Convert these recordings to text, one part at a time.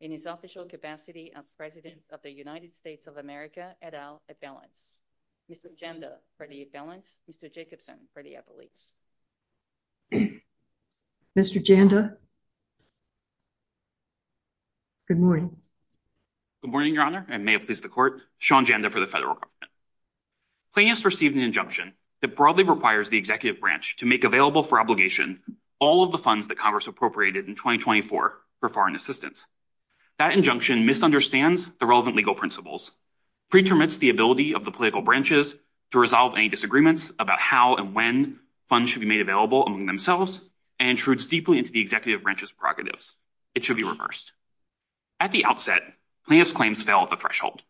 in his official capacity as President of the United States of America, et al., Mr. Janda for the Affiliate, Mr. Jacobson for the Affiliate. Mr. Janda, good morning. Good morning, Your Honor, and may it please the Court, Sean Janda for the Federal Court. Claims for Stephen N. Janda. This is an injunction that broadly requires the executive branch to make available for obligation all of the funds that Congress appropriated in 2024 for foreign assistance. That injunction misunderstands the relevant legal principles, pretermines the ability of the political branches to resolve any disagreements about how and when funds should be made available among themselves, and intrudes deeply into the executive branch's prerogatives. It should be reversed. At the outset, plaintiffs' claims fell at the threshold.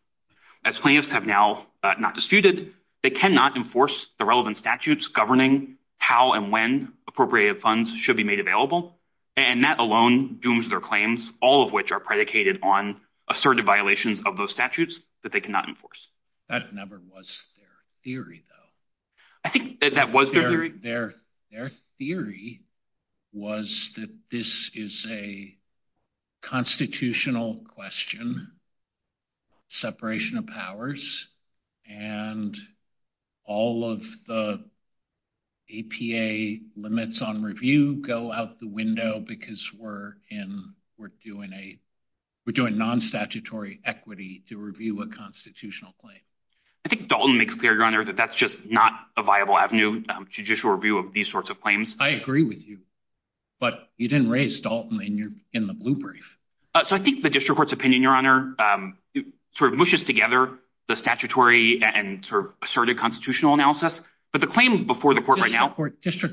As plaintiffs have now not disputed, they cannot enforce the relevant statutes governing how and when appropriated funds should be made available. And that alone dooms their claims, all of which are predicated on assertive violations of those statutes that they cannot enforce. That never was their theory, though. I think that was their theory. Their theory was that this is a constitutional question, separation of powers, and all of the APA limits on review go out the window because we're doing non-statutory equity to review a constitutional claim. I think Dalton makes clear, Your Honor, that that's just not a viable avenue to judicial review of these sorts of claims. I agree with you. But you didn't raise Dalton in the blue brief. So I think the district court's opinion, Your Honor, sort of mushes together the statutory and sort of assertive constitutional analysis. District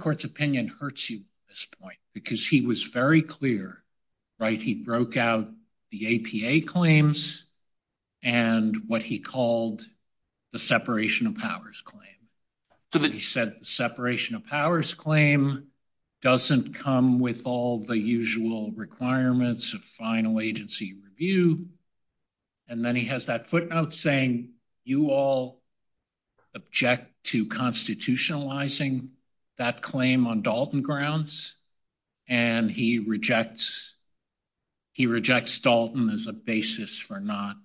court's opinion hurts you at this point because he was very clear, right? He broke out the APA claims and what he called the separation of powers claim. He said the separation of powers claim doesn't come with all the usual requirements of final agency review. And then he has that footnote saying you all object to constitutionalizing that claim on Dalton grounds. And he rejects Dalton as a basis for not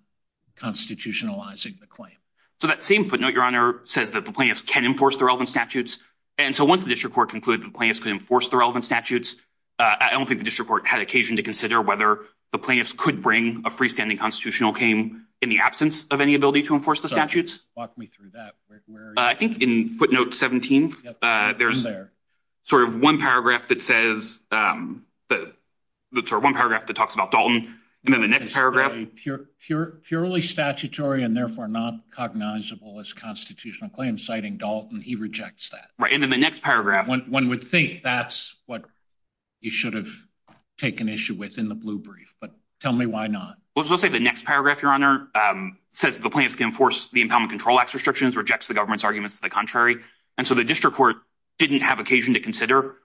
constitutionalizing the claim. So that same footnote, Your Honor, says that the plaintiffs can enforce the relevant statutes. And so once the district court concluded the plaintiffs can enforce the relevant statutes, I don't think the district court had occasion to consider whether the plaintiffs could bring a freestanding constitutional claim in the absence of any ability to enforce the statutes. Walk me through that. I think in footnote 17, there's sort of one paragraph that says – one paragraph that talks about Dalton. Purely statutory and therefore not cognizable as constitutional claim, citing Dalton, he rejects that. And in the next paragraph – One would think that's what he should have taken issue with in the blue brief, but tell me why not. Let's say the next paragraph, Your Honor, says the plaintiffs can enforce the Empowerment Control Act restrictions, rejects the government's arguments to the contrary. And so the district court didn't have occasion to consider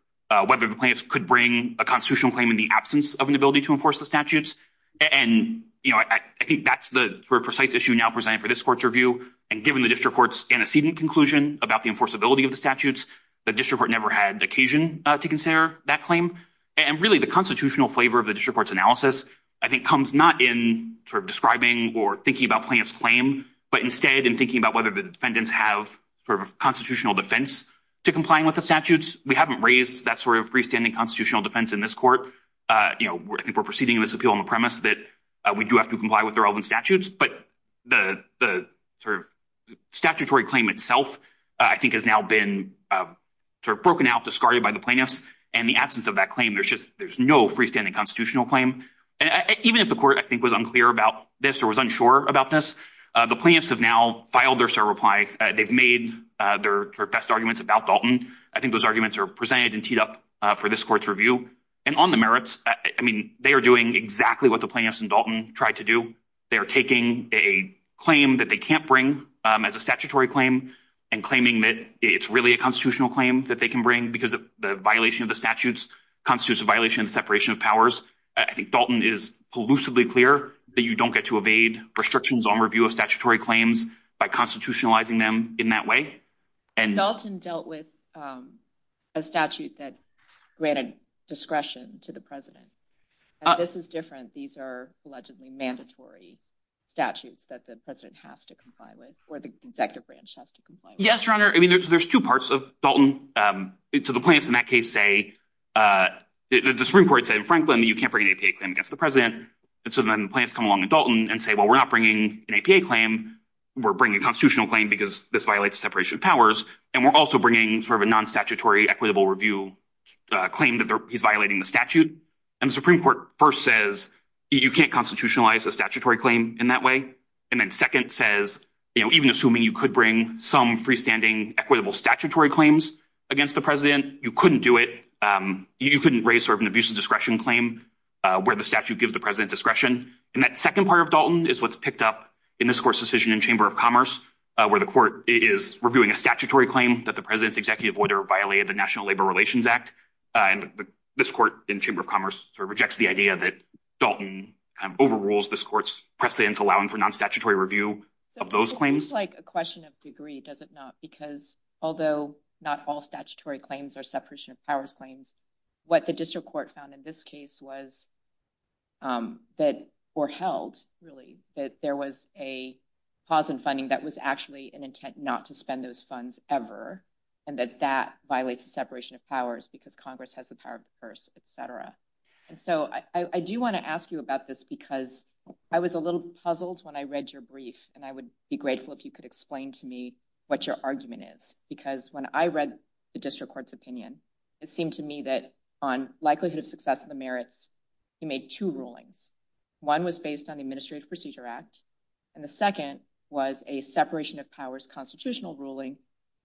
whether the plaintiffs could bring a constitutional claim in the absence of an ability to enforce the statutes. And I think that's the precise issue now presented for this court's review. And given the district court's antecedent conclusion about the enforceability of the statutes, the district court never had occasion to consider that claim. And really, the constitutional flavor of the district court's analysis, I think, comes not in sort of describing or thinking about plaintiff's claim, but instead in thinking about whether the defendants have sort of a constitutional defense to complying with the statutes. We haven't raised that sort of freestanding constitutional defense in this court. I think we're proceeding with this appeal on the premise that we do have to comply with the relevant statutes. But the statutory claim itself, I think, has now been sort of broken out, discarded by the plaintiffs. And in the absence of that claim, there's no freestanding constitutional claim. Even if the court, I think, was unclear about this or was unsure about this, the plaintiffs have now filed their cert replies. They've made their best arguments about Dalton. I think those arguments are presented and teed up for this court's review. And on the merits, I mean, they are doing exactly what the plaintiffs and Dalton tried to do. They are taking a claim that they can't bring as a statutory claim and claiming that it's really a constitutional claim that they can bring because of the violation of the statutes constitutes a violation of separation of powers. I think Dalton is elusively clear that you don't get to evade restrictions on review of statutory claims by constitutionalizing them in that way. Dalton dealt with a statute that granted discretion to the president. This is different. These are allegedly mandatory statutes that the president has to comply with or the executive branch has to comply with. Yes, Your Honor. I mean, there's two parts of Dalton. So the plaintiffs in that case say – the Supreme Court said in Franklin that you can't bring an APA claim against the president. And so then the plaintiffs come along in Dalton and say, well, we're not bringing an APA claim. We're bringing a constitutional claim because this violates separation of powers. And we're also bringing sort of a non-statutory equitable review claim that he's violating the statute. And the Supreme Court first says you can't constitutionalize a statutory claim in that way. And then second says even assuming you could bring some freestanding equitable statutory claims against the president, you couldn't do it. You couldn't raise sort of an abuse of discretion claim where the statute gives the president discretion. And that second part of Dalton is what's picked up in this court's decision in Chamber of Commerce, where the court is reviewing a statutory claim that the president's executive order violated the National Labor Relations Act. And this court in Chamber of Commerce sort of rejects the idea that Dalton overrules this court's precedent to allow him for non-statutory review of those claims. It's like a question of degree, does it not? Because although not all statutory claims are separation of powers claims, what the district court found in this case was that or held, really, that there was a pause in funding that was actually an intent not to spend those funds ever, and that that violates the separation of powers because Congress has the power first, et cetera. And so I do want to ask you about this because I was a little puzzled when I read your brief, and I would be grateful if you could explain to me what your argument is. Because when I read the district court's opinion, it seemed to me that on likelihood of success of the merits, he made two rulings. One was based on the Administrative Procedure Act, and the second was a separation of powers constitutional ruling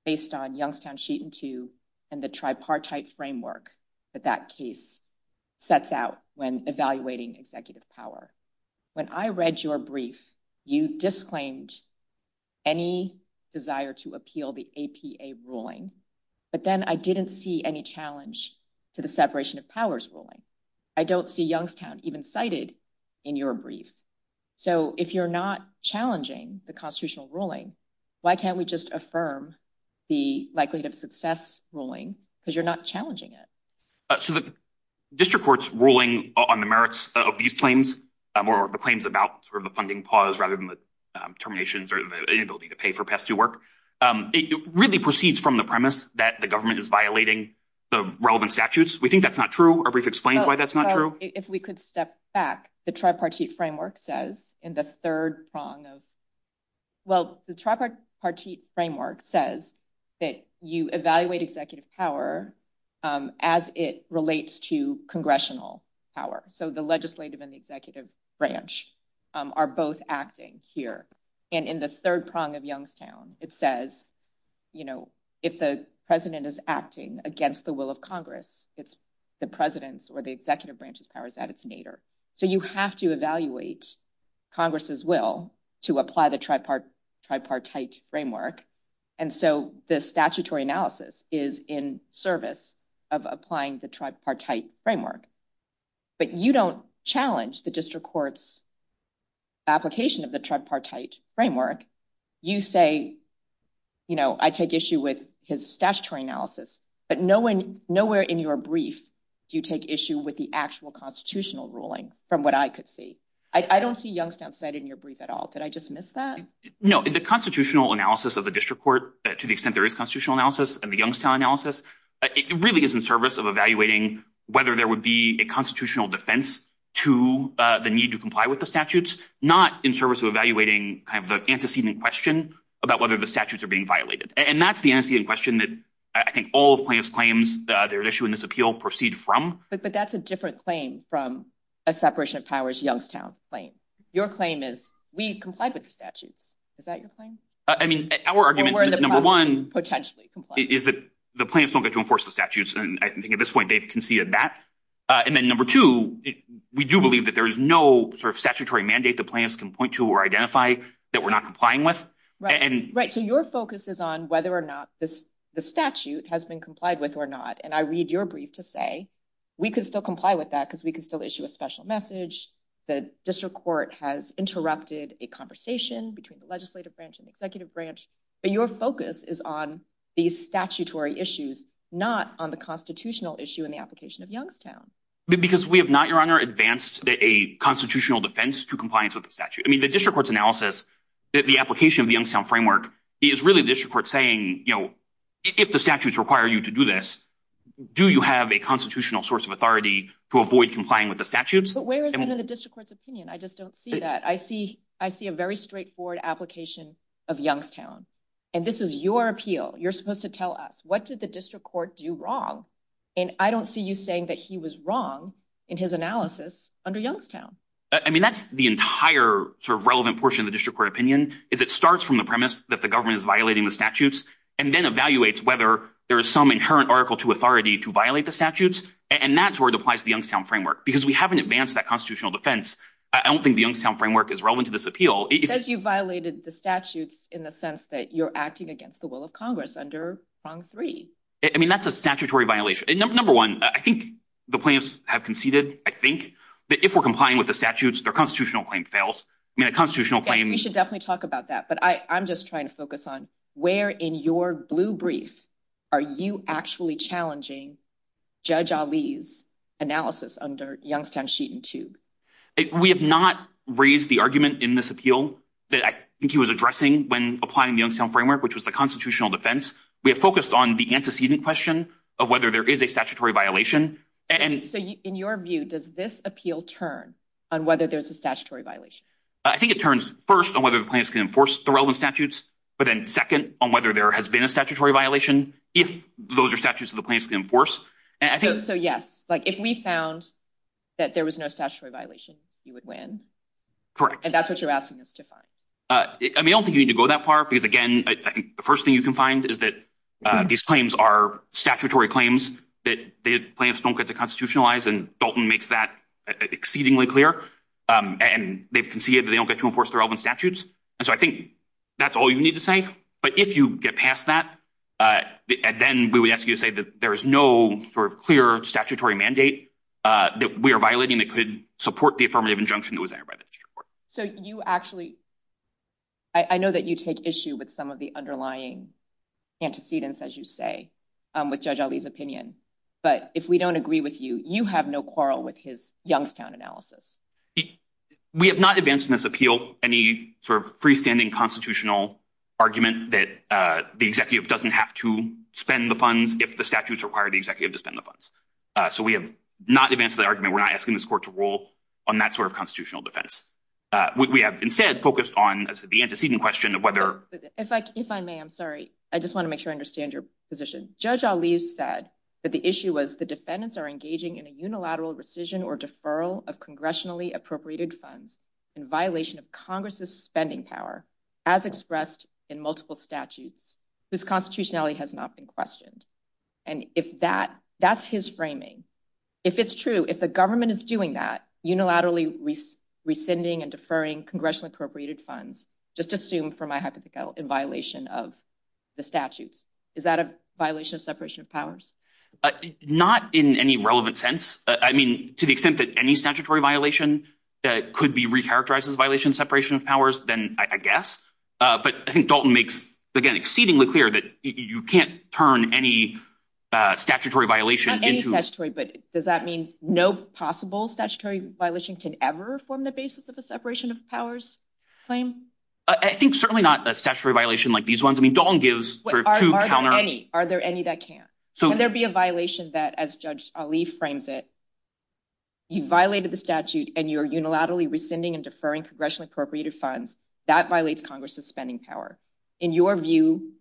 based on Youngstown Sheet and Tube and the tripartite framework that that case sets out when evaluating executive power. When I read your brief, you disclaimed any desire to appeal the APA ruling, but then I didn't see any challenge to the separation of powers ruling. I don't see Youngstown even cited in your brief. So if you're not challenging the constitutional ruling, why can't we just affirm the likelihood of success ruling because you're not challenging it? So the district court's ruling on the merits of these claims or the claims about the funding pause rather than the terminations or the inability to pay for past due work, it really proceeds from the premise that the government is violating the relevant statutes. We think that's not true. Our brief explains why that's not true. If we could step back, the tripartite framework says that you evaluate executive power as it relates to congressional power. So the legislative and the executive branch are both acting here. And in the third prong of Youngstown, it says if the president is acting against the will of Congress, it's the president's or the executive branch's powers that is needed. So you have to evaluate Congress's will to apply the tripartite framework. And so the statutory analysis is in service of applying the tripartite framework. But you don't challenge the district court's application of the tripartite framework. You say, you know, I take issue with his statutory analysis. But nowhere in your brief do you take issue with the actual constitutional ruling from what I could see. I don't see Youngstown said in your brief at all. Did I just miss that? No, the constitutional analysis of the district court, to the extent there is constitutional analysis and the Youngstown analysis, it really is in service of evaluating whether there would be a constitutional defense to the need to comply with the statutes, not in service of evaluating the antecedent question about whether the statutes are being violated. And that's the antecedent question that I think all plaintiffs' claims, their issue in this appeal proceed from. But that's a different claim from a separation of powers Youngstown claim. Your claim is we comply with the statutes. Is that your claim? I mean, our argument is, number one, is that the plaintiffs don't get to enforce the statutes. And I think at this point they've conceded that. And then number two, we do believe that there is no sort of statutory mandate the plaintiffs can point to or identify that we're not complying with. Right. So your focus is on whether or not the statute has been complied with or not. And I read your brief to say we can still comply with that because we can still issue a special message. The district court has interrupted a conversation between the legislative branch and executive branch. Your focus is on the statutory issues, not on the constitutional issue in the application of Youngstown. Because we have not, Your Honor, advanced a constitutional defense to compliance with the statute. I mean, the district court's analysis, the application of the Youngstown framework is really the district court saying, you know, if the statutes require you to do this, do you have a constitutional source of authority to avoid complying with the statutes? But where is it in the district court's opinion? I just don't see that. I see a very straightforward application of Youngstown. And this is your appeal. You're supposed to tell us. What did the district court do wrong? And I don't see you saying that he was wrong in his analysis under Youngstown. I mean, that's the entire sort of relevant portion of the district court opinion. It starts from the premise that the government is violating the statutes and then evaluates whether there is some inherent article to authority to violate the statutes. And that's where it applies to the Youngstown framework because we haven't advanced that constitutional defense. I don't think the Youngstown framework is relevant to this appeal. It says you violated the statutes in the sense that you're acting against the will of Congress under prong three. I mean, that's a statutory violation. Number one, I think the plaintiffs have conceded, I think, that if we're complying with the statutes, their constitutional claim fails. We should definitely talk about that, but I'm just trying to focus on where in your blue brief are you actually challenging Judge Ali's analysis under Youngstown Sheet and Tube? We have not raised the argument in this appeal that I think he was addressing when applying the Youngstown framework, which was the constitutional defense. We have focused on the antecedent question of whether there is a statutory violation. So in your view, does this appeal turn on whether there's a statutory violation? I think it turns first on whether the plaintiffs can enforce the relevant statutes, but then second on whether there has been a statutory violation if those are statutes that the plaintiffs can enforce. So yes, like if we found that there was no statutory violation, you would win? Correct. And that's what you're asking us to find? I don't think you need to go that far because, again, I think the first thing you can find is that these claims are statutory claims that the plaintiffs don't get to constitutionalize, and Dalton makes that exceedingly clear. And they've conceded that they don't get to enforce the relevant statutes. And so I think that's all you need to say. But if you get past that, then we would ask you to say that there is no clear statutory mandate that we are violating that could support the affirmative injunction that was entered by the Supreme Court. So you actually – I know that you take issue with some of the underlying antecedents, as you say, with Judge Ali's opinion. But if we don't agree with you, you have no quarrel with his Youngstown analysis. We have not advanced in this appeal any sort of freestanding constitutional argument that the executive doesn't have to spend the funds if the statutes require the executive to spend the funds. So we have not advanced the argument. We're not asking this court to rule on that sort of constitutional defense. We have instead focused on the antecedent question of whether – If I may, I'm sorry. I just want to make sure I understand your position. Judge Ali said that the issue was the defendants are engaging in a unilateral rescission or deferral of congressionally appropriated funds in violation of Congress's spending power as expressed in multiple statutes whose constitutionality has not been questioned. And if that – that's his framing. If it's true, if the government is doing that, unilaterally rescinding and deferring congressionally appropriated funds, just assume for my hypothetical, in violation of the statute, is that a violation of separation of powers? Not in any relevant sense. I mean to the extent that any statutory violation that could be recharacterized as a violation of separation of powers, then I guess. But I think Dalton makes, again, exceedingly clear that you can't turn any statutory violation into – Not any statutory, but does that mean no possible statutory violation can ever form the basis of a separation of powers claim? I think certainly not a statutory violation like these ones. I mean Dalton gives sort of two counter – Are there any that can? Can there be a violation that, as Judge Ali frames it, you violated the statute, and you're unilaterally rescinding and deferring congressionally appropriated funds? That violates Congress's spending power. In your view,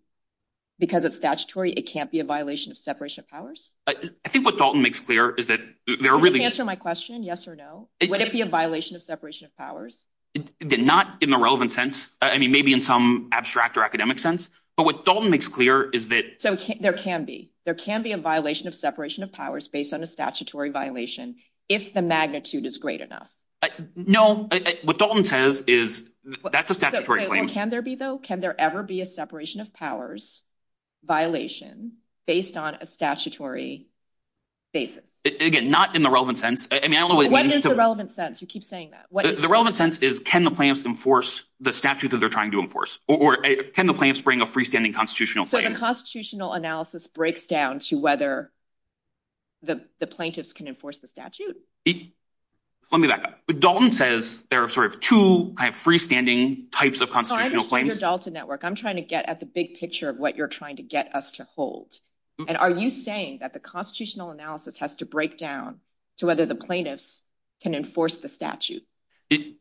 because it's statutory, it can't be a violation of separation of powers? I think what Dalton makes clear is that there are really – Can you answer my question, yes or no? Would it be a violation of separation of powers? Not in the relevant sense. I mean maybe in some abstract or academic sense. But what Dalton makes clear is that – So there can be. There can be a violation of separation of powers based on a statutory violation if the magnitude is great enough. No. What Dalton says is that's a statutory claim. Can there be, though? Can there ever be a separation of powers violation based on a statutory basis? Again, not in the relevant sense. I mean I don't know – What is the relevant sense? You keep saying that. The relevant sense is can the plaintiffs enforce the statute that they're trying to enforce, or can the plaintiffs bring a freestanding constitutional claim? So the constitutional analysis breaks down to whether the plaintiffs can enforce the statute? Let me back up. Dalton says there are sort of two freestanding types of constitutional claims. I understand your Dalton network. I'm trying to get at the big picture of what you're trying to get us to hold. And are you saying that the constitutional analysis has to break down to whether the plaintiffs can enforce the statute?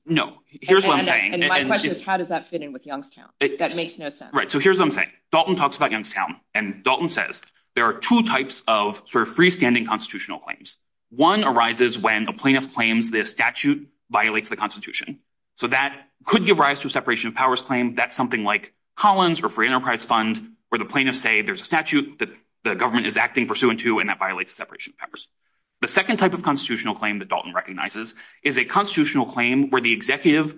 No. Here's what I'm saying. And my question is how does that fit in with Youngstown? That makes no sense. Right. So here's what I'm saying. Dalton talks about Youngstown, and Dalton says there are two types of sort of freestanding constitutional claims. One arises when the plaintiff claims the statute violates the constitution. So that could give rise to a separation of powers claim. That's something like Collins or free enterprise funds where the plaintiffs say there's a statute that the government is acting pursuant to, and that violates separation of powers. The second type of constitutional claim that Dalton recognizes is a constitutional claim where the executive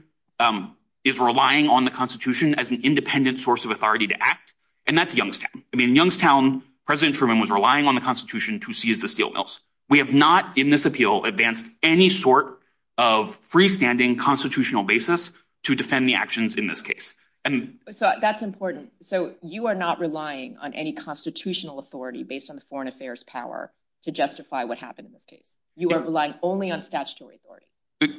is relying on the constitution as an independent source of authority to act. And that's Youngstown. In Youngstown, President Truman was relying on the constitution to seize the steel mills. We have not in this appeal advanced any sort of freestanding constitutional basis to defend the actions in this case. That's important. So you are not relying on any constitutional authority based on the foreign affairs power to justify what happened in this case. You are relying only on statutory authority.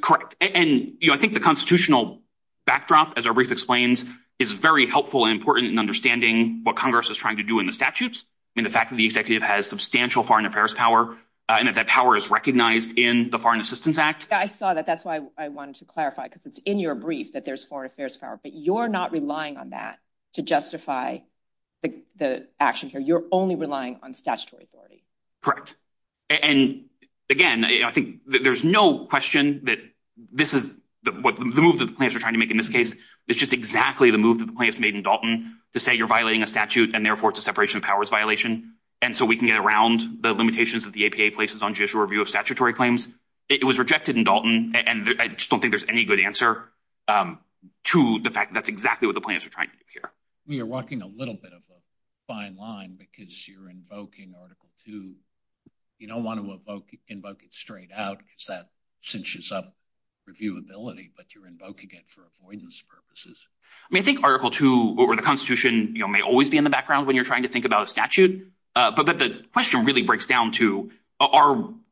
Correct. And I think the constitutional backdrop, as Arif explains, is very helpful and important in understanding what Congress is trying to do in the statutes. And the fact that the executive has substantial foreign affairs power and that that power is recognized in the Foreign Assistance Act. I saw that. That's why I wanted to clarify because it's in your brief that there's foreign affairs power, but you're not relying on that to justify the actions. You're only relying on statutory authority. And, again, I think there's no question that this is – the move that the plaintiffs are trying to make in this case is just exactly the move that the plaintiffs made in Dalton to say you're violating a statute and, therefore, it's a separation of powers violation. And so we can get around the limitations that the APA places on judicial review of statutory claims. It was rejected in Dalton, and I just don't think there's any good answer to the fact that that's exactly what the plaintiffs are trying to do here. You're walking a little bit of a fine line because you're invoking Article II. You don't want to invoke it straight out because that cinches up reviewability, but you're invoking it for avoidance purposes. I mean I think Article II over the Constitution may always be in the background when you're trying to think about a statute. But the question really breaks down to,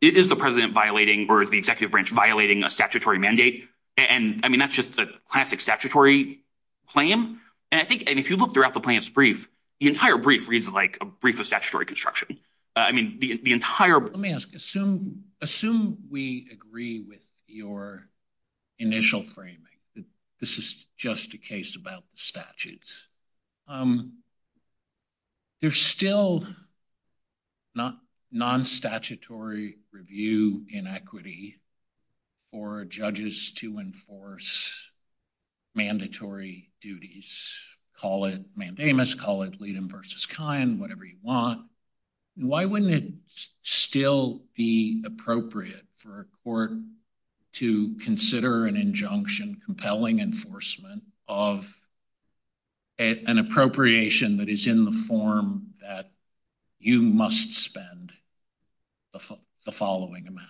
is the president violating or is the executive branch violating a statutory mandate? And, I mean, that's just a classic statutory claim. And I think – and if you look throughout the plaintiffs' brief, the entire brief reads like a brief of statutory construction. Let me ask. Assume we agree with your initial framing that this is just a case about statutes. There's still non-statutory review inequity for judges to enforce mandatory duties. Call it Mandamus, call it Leedham v. Kine, whatever you want. Why wouldn't it still be appropriate for a court to consider an injunction compelling enforcement of an appropriation that is in the form that you must spend the following amount?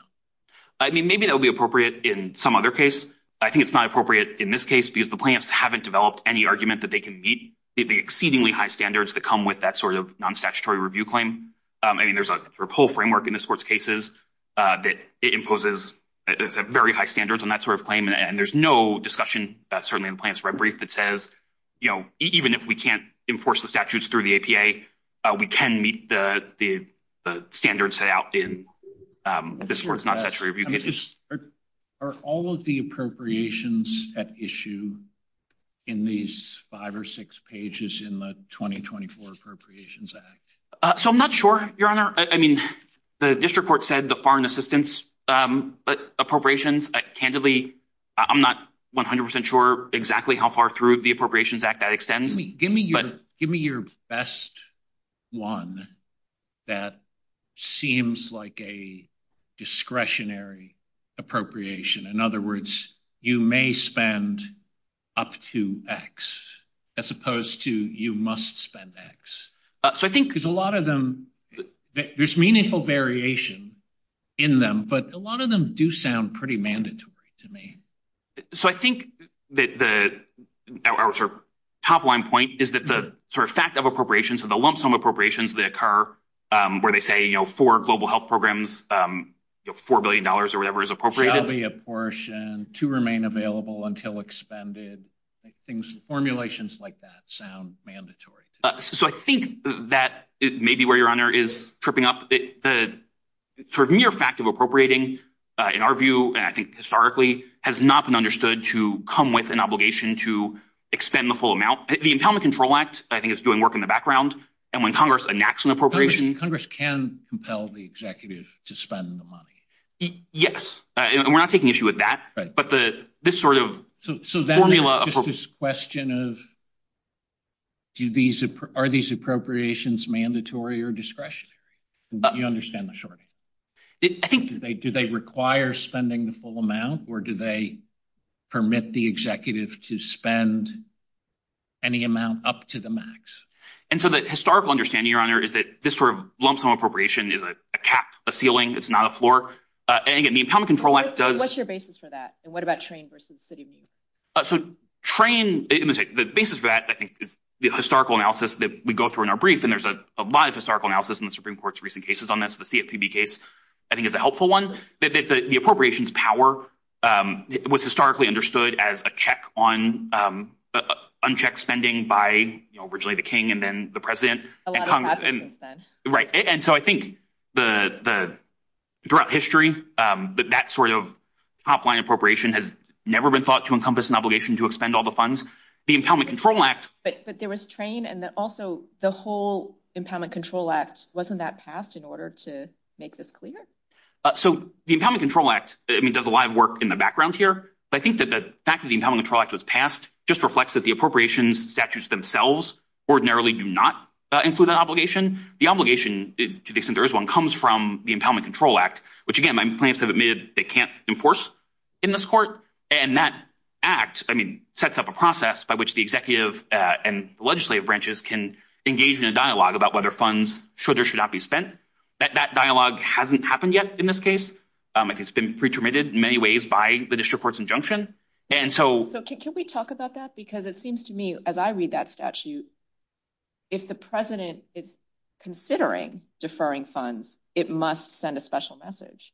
I mean maybe that would be appropriate in some other case. I think it's not appropriate in this case because the plaintiffs haven't developed any argument that they can meet the exceedingly high standards that come with that sort of non-statutory review claim. I mean there's a whole framework in this court's cases that imposes very high standards on that sort of claim. And there's no discussion, certainly in the plaintiffs' brief, that says even if we can't enforce the statutes through the APA, we can meet the standards set out in this court's non-statutory review cases. Are all of the appropriations at issue in these five or six pages in the 2024 Appropriations Act? So I'm not sure, Your Honor. I mean the district court said the foreign assistance appropriations. Candidly, I'm not 100% sure exactly how far through the Appropriations Act that extends. Give me your best one that seems like a discretionary appropriation. In other words, you may spend up to X as opposed to you must spend X. So I think there's a lot of them. There's meaningful variation in them, but a lot of them do sound pretty mandatory to me. So I think that the top line point is that the sort of fact of appropriations or the lump sum appropriations that occur where they say for global health programs $4 billion or whatever is appropriated. To remain available until expended. Formulations like that sound mandatory. So I think that it may be where Your Honor is tripping up. The mere fact of appropriating in our view, I think historically, has not been understood to come with an obligation to expend the full amount. The Empowerment Control Act, I think, is doing work in the background. And when Congress enacts an appropriation. Congress can compel the executive to spend the money. Yes. And we're not taking issue with that. So then there's this question of are these appropriations mandatory or discretionary? Let me understand the short answer. Do they require spending the full amount or do they permit the executive to spend any amount up to the max? And so the historical understanding, Your Honor, is that this sort of lump sum appropriation is a cap, a ceiling. It's not a floor. What's your basis for that? And what about train versus city? So train, the basis for that, I think, is the historical analysis that we go through in our brief. And there's a lot of historical analysis in the Supreme Court's recent cases on this. The CFPB case, I think, is a helpful one. The appropriations power was historically understood as a check on unchecked spending by originally the king and then the president. Right. And so I think throughout history, that sort of top-line appropriation has never been thought to encompass an obligation to expend all the funds. The Impoundment Control Act… But there was train, and then also the whole Impoundment Control Act wasn't that passed in order to make this clear? So the Impoundment Control Act does a lot of work in the background here. But I think that the fact that the Impoundment Control Act was passed just reflects that the appropriations statutes themselves ordinarily do not include that obligation. The obligation, to the extent there is one, comes from the Impoundment Control Act, which, again, my plaintiffs have admitted they can't enforce in this court. And that act, I mean, sets up a process by which the executive and legislative branches can engage in a dialogue about whether funds should or should not be spent. That dialogue hasn't happened yet in this case. It's been pre-terminated in many ways by the district court's injunction. Can we talk about that? Because it seems to me, as I read that statute, if the president is considering deferring funds, it must send a special message.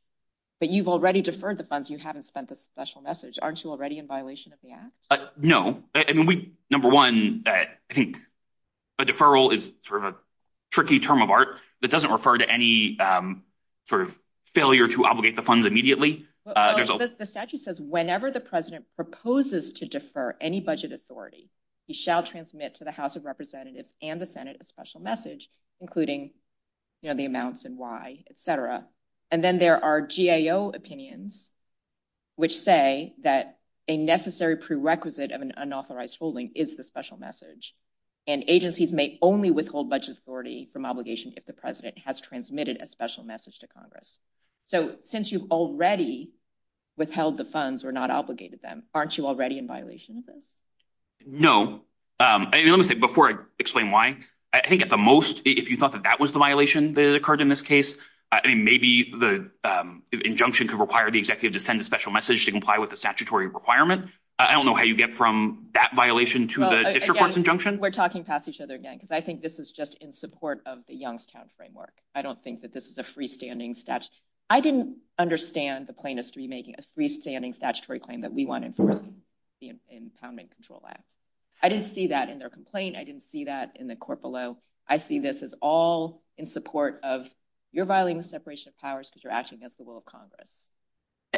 But you've already deferred the funds. You haven't sent the special message. Aren't you already in violation of the act? No. Number one, I think a deferral is sort of a tricky term of art that doesn't refer to any sort of failure to obligate the funds immediately. The statute says, whenever the president proposes to defer any budget authority, he shall transmit to the House of Representatives and the Senate a special message, including the amounts and why, etc. And then there are GAO opinions which say that a necessary prerequisite of an unauthorized holding is the special message. And agencies may only withhold budget authority from obligations if the president has transmitted a special message to Congress. So since you've already withheld the funds or not obligated them, aren't you already in violation of this? No. Before I explain why, I think at the most, if you thought that that was the violation that occurred in this case, maybe the injunction could require the executive to send a special message to comply with the statutory requirement. I don't know how you get from that violation to the district court's injunction. We're talking past each other again because I think this is just in support of the Youngstown framework. I don't think that this is a freestanding statute. I didn't understand the plaintiffs to be making a freestanding statutory claim that we want to enforce in the Empowerment and Control Act. I didn't see that in their complaint. I didn't see that in the court below. I see this as all in support of you're violating the separation of powers because you're acting against the will of Congress.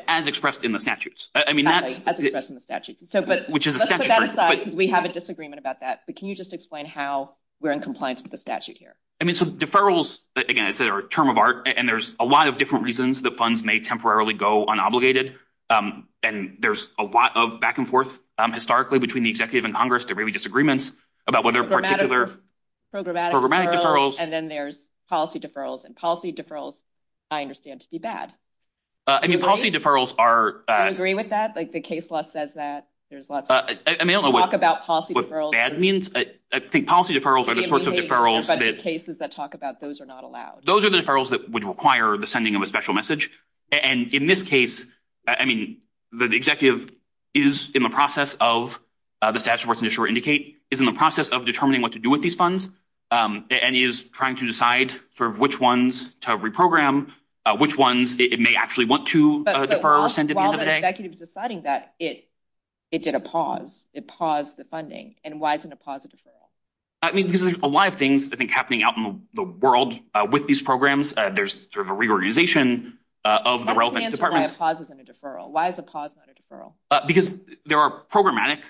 As expressed in the statutes. As expressed in the statutes, but let's put that aside because we have a disagreement about that. But can you just explain how we're in compliance with the statute here? I mean, so deferrals, again, it's a term of art, and there's a lot of different reasons that funds may temporarily go unobligated. And there's a lot of back and forth historically between the executive and Congress. There may be disagreements about what their particular programmatic deferrals. And then there's policy deferrals and policy deferrals, I understand, to be bad. I mean, policy deferrals are. Do you agree with that? Like the case law says that there's lots of talk about policy deferrals. I think policy deferrals are the sorts of deferrals that. But in cases that talk about those are not allowed. Those are the deferrals that would require the sending of a special message. And in this case, I mean, the executive is in the process of, the statute where it's initially indicated, is in the process of determining what to do with these funds and is trying to decide for which ones to reprogram, which ones it may actually want to defer. While the executive is deciding that, it did a pause. It paused the funding. And why isn't it paused the deferral? Because there's a lot of things, I think, happening out in the world with these programs. There's sort of a reorganization of the relevant departments. Why is a pause not a deferral? Because there are programmatic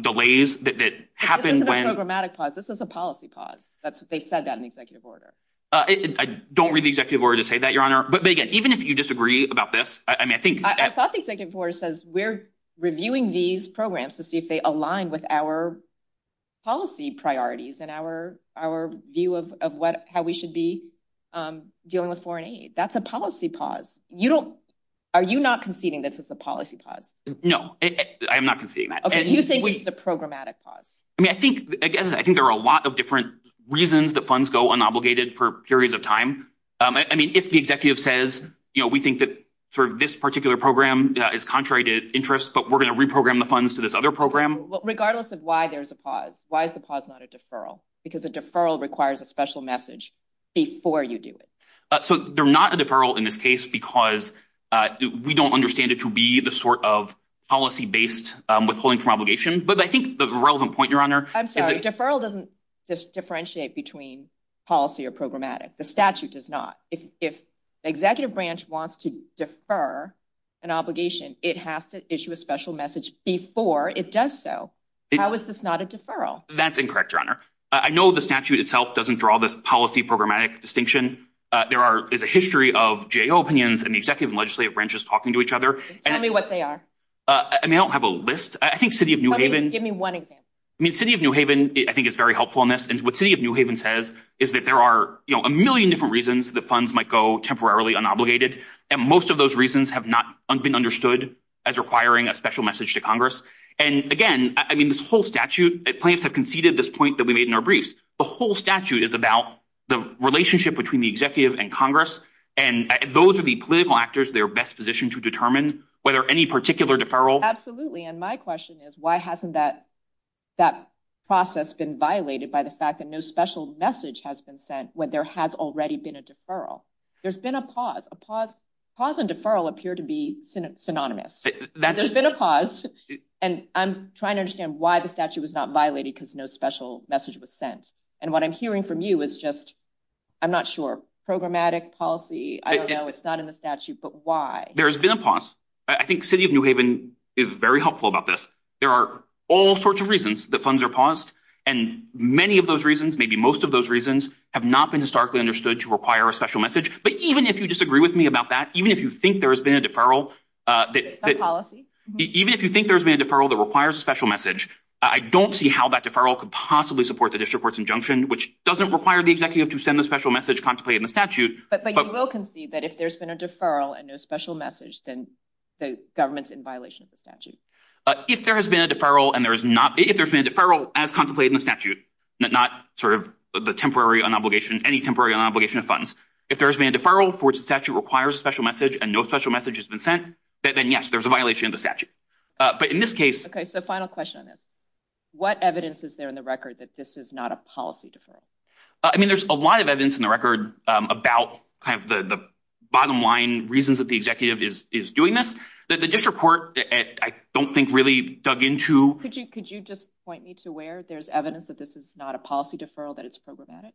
delays that happen. This isn't a programmatic pause. This is a policy pause. They said that in the executive order. I don't read the executive order to say that, Your Honor. But again, even if you disagree about this, I mean, I think- I thought the executive order says we're reviewing these programs to see if they align with our policy priorities and our view of how we should be dealing with foreign aid. That's a policy pause. Are you not conceding that this is a policy pause? No, I'm not conceding that. Okay, you think it's a programmatic pause. I mean, I think, again, I think there are a lot of different reasons that funds go unobligated for periods of time. I mean, if the executive says, you know, we think that sort of this particular program is contrary to interest, but we're going to reprogram the funds to this other program- Regardless of why there's a pause, why is a pause not a deferral? Because a deferral requires a special message before you do it. So they're not a deferral in this case because we don't understand it to be the sort of policy-based withholding from obligation. But I think the relevant point, Your Honor- I'm sorry, deferral doesn't differentiate between policy or programmatic. The statute does not. If the executive branch wants to defer an obligation, it has to issue a special message before it does so. How is this not a deferral? That's incorrect, Your Honor. I know the statute itself doesn't draw this policy-programmatic distinction. There is a history of GAO opinions and the executive and legislative branches talking to each other- Tell me what they are. And they don't have a list. I think City of New Haven- Give me one example. I mean, City of New Haven, I think, is very helpful in this. And what City of New Haven says is that there are a million different reasons that funds might go temporarily unobligated. And most of those reasons have not been understood as requiring a special message to Congress. And again, I mean, this whole statute- Plaintiffs have conceded this point that we made in our briefs. The whole statute is about the relationship between the executive and Congress. And those are the political actors that are best positioned to determine whether any particular deferral- There's been a pause. Pause and deferral appear to be synonymous. There's been a pause. And I'm trying to understand why the statute was not violated because no special message was sent. And what I'm hearing from you is just- I'm not sure. Programmatic policy? I don't know. It's not in the statute. But why? There's been a pause. I think City of New Haven is very helpful about this. There are all sorts of reasons that funds are paused. And many of those reasons, maybe most of those reasons, have not been historically understood to require a special message. But even if you disagree with me about that, even if you think there's been a deferral- That's policy. Even if you think there's been a deferral that requires a special message, I don't see how that deferral could possibly support the district court's injunction, which doesn't require the executive to send a special message contemplated in the statute. But you will concede that if there's been a deferral and no special message, then the government's in violation of the statute. If there has been a deferral and there's not- If there's been a deferral as contemplated in the statute, not sort of the temporary unobligation, any temporary unobligation of funds, if there's been a deferral for which the statute requires a special message and no special message has been sent, then yes, there's a violation of the statute. But in this case- Okay, so final question on this. What evidence is there in the record that this is not a policy deferral? I mean, there's a lot of evidence in the record about kind of the bottom line reasons that the executive is doing this. The district court, I don't think really dug into- Could you just point me to where there's evidence that this is not a policy deferral, that it's problematic?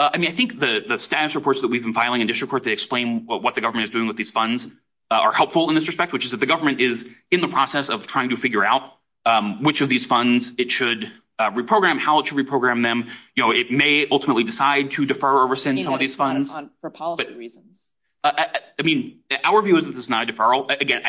I mean, I think the status reports that we've been filing in district court, they explain what the government is doing with these funds are helpful in this respect, which is that the government is in the process of trying to figure out which of these funds it should reprogram, how it should reprogram them. It may ultimately decide to defer or rescind some of these funds. For policy reasons. I mean, our view is that this is not a deferral. Again,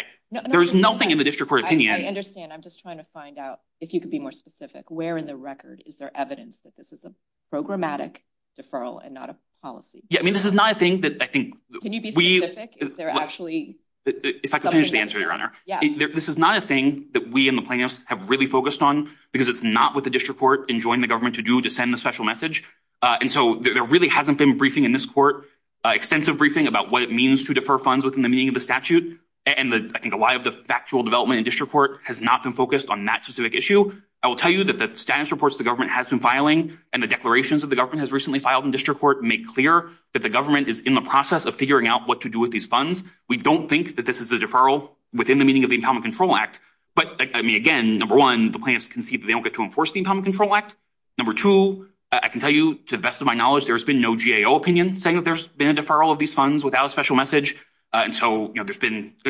there is nothing in the district court opinion- I'm just trying to find out if you could be more specific. Where in the record is there evidence that this is a programmatic deferral and not a policy? Yeah, I mean, this is not a thing that I think- Can you be specific? Is there actually- If I could finish the answer, Your Honor. This is not a thing that we in the plaintiffs have really focused on because it's not what the district court enjoined the government to do to send the special message. And so there really hasn't been a briefing in this court, extensive briefing about what it means to defer funds within the meaning of the statute. And I think a lot of the factual development in district court has not been focused on that specific issue. I will tell you that the status reports the government has been filing and the declarations that the government has recently filed in district court make clear that the government is in the process of figuring out what to do with these funds. We don't think that this is a deferral within the meaning of the Income Control Act. But, I mean, again, number one, the plaintiffs concede that they don't get to enforce the Income Control Act. Number two, I can tell you, to the best of my knowledge, there's been no GAO opinion saying that there's been a deferral of these funds without a special message. And so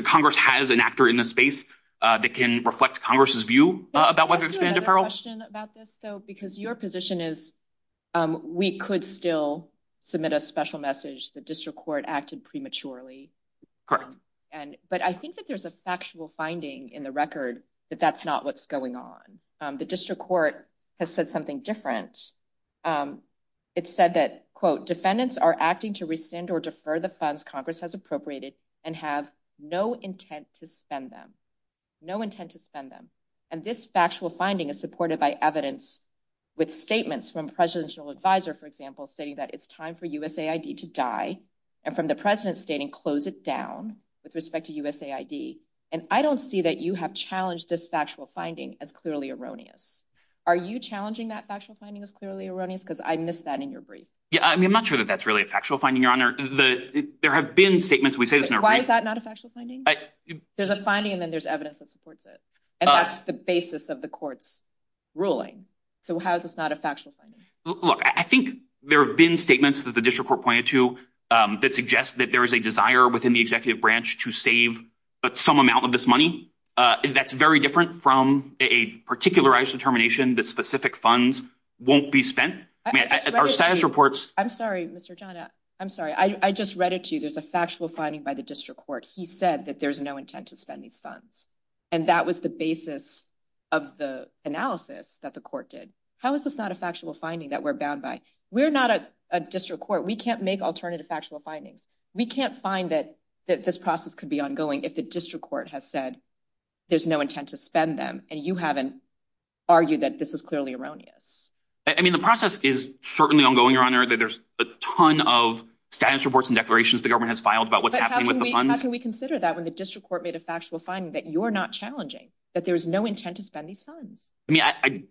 Congress has an actor in this space that can reflect Congress' view about whether there's been a deferral. Can I ask you a question about this? Because your position is we could still submit a special message. The district court acted prematurely. Correct. But I think that there's a factual finding in the record that that's not what's going on. The district court has said something different. It said that, quote, defendants are acting to rescind or defer the funds Congress has appropriated and have no intent to spend them. No intent to spend them. And this factual finding is supported by evidence with statements from presidential advisor, for example, saying that it's time for USAID to die and from the president stating close it down with respect to USAID. And I don't see that you have challenged this factual finding as clearly erroneous. Are you challenging that factual finding as clearly erroneous? Because I missed that in your brief. Yeah, I mean, I'm not sure that that's really a factual finding, Your Honor. There have been statements. Why is that not a factual finding? There's a finding and then there's evidence that supports it. And that's the basis of the court's ruling. So how is this not a factual finding? Look, I think there have been statements that the district court pointed to that suggest that there is a desire within the executive branch to save some amount of this money. That's very different from a particularized determination that specific funds won't be spent. Our status reports. I'm sorry, Mr. Tana. I'm sorry. I just read it to you. There's a factual finding by the district court. He said that there's no intent to spend these funds. And that was the basis of the analysis that the court did. How is this not a factual finding that we're bound by? We're not a district court. We can't make alternative factual findings. We can't find that this process could be ongoing if the district court has said there's no intent to spend them and you haven't argued that this is clearly erroneous. I mean, the process is certainly ongoing, Your Honor. There's a ton of status reports and declarations the government has filed about what's happening with the funds. But how can we consider that when the district court made a factual finding that you're not challenging, that there's no intent to spend these funds? I mean, I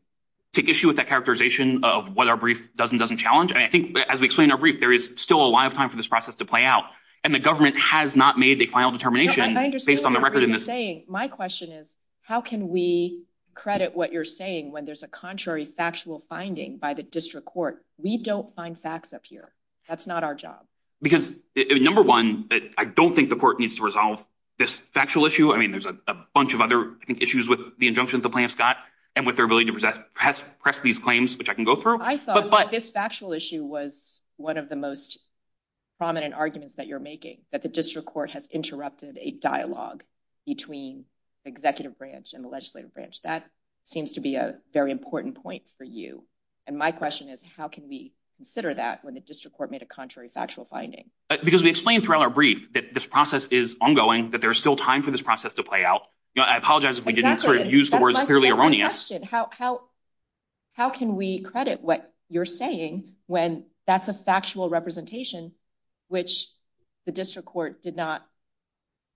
take issue with that characterization of what our brief does and doesn't challenge. And I think, as we explained in our brief, there is still a lot of time for this process to play out. And the government has not made a final determination based on the record. My question is, how can we credit what you're saying when there's a contrary factual finding by the district court? We don't find facts up here. That's not our job. Because, number one, I don't think the court needs to resolve this factual issue. I mean, there's a bunch of other issues with the injunctions the plaintiffs got and with their ability to press these claims, which I can go through. But I thought this factual issue was one of the most prominent arguments that you're making, that the district court has interrupted a dialogue between the executive branch and the legislative branch. That seems to be a very important point for you. And my question is, how can we consider that when the district court made a contrary factual finding? Because we explained throughout our brief that this process is ongoing, that there's still time for this process to play out. I apologize if we didn't sort of use the words clearly erroneous. My question, how can we credit what you're saying when that's a factual representation which the district court did not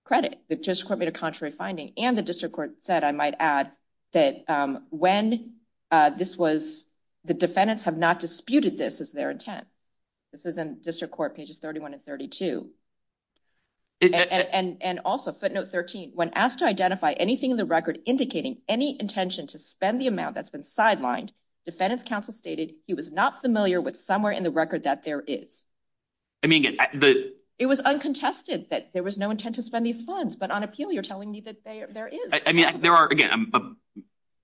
credit? The district court made a contrary finding. And the district court said, I might add, that when this was, the defendants have not disputed this as their intent. This is in district court pages 31 and 32. And also footnote 13, when asked to identify anything in the record indicating any intention to spend the amount that's been sidelined, defendants counsel stated he was not familiar with somewhere in the record that there is. It was uncontested that there was no intent to spend these funds. But on appeal, you're telling me that there is. There are, again, a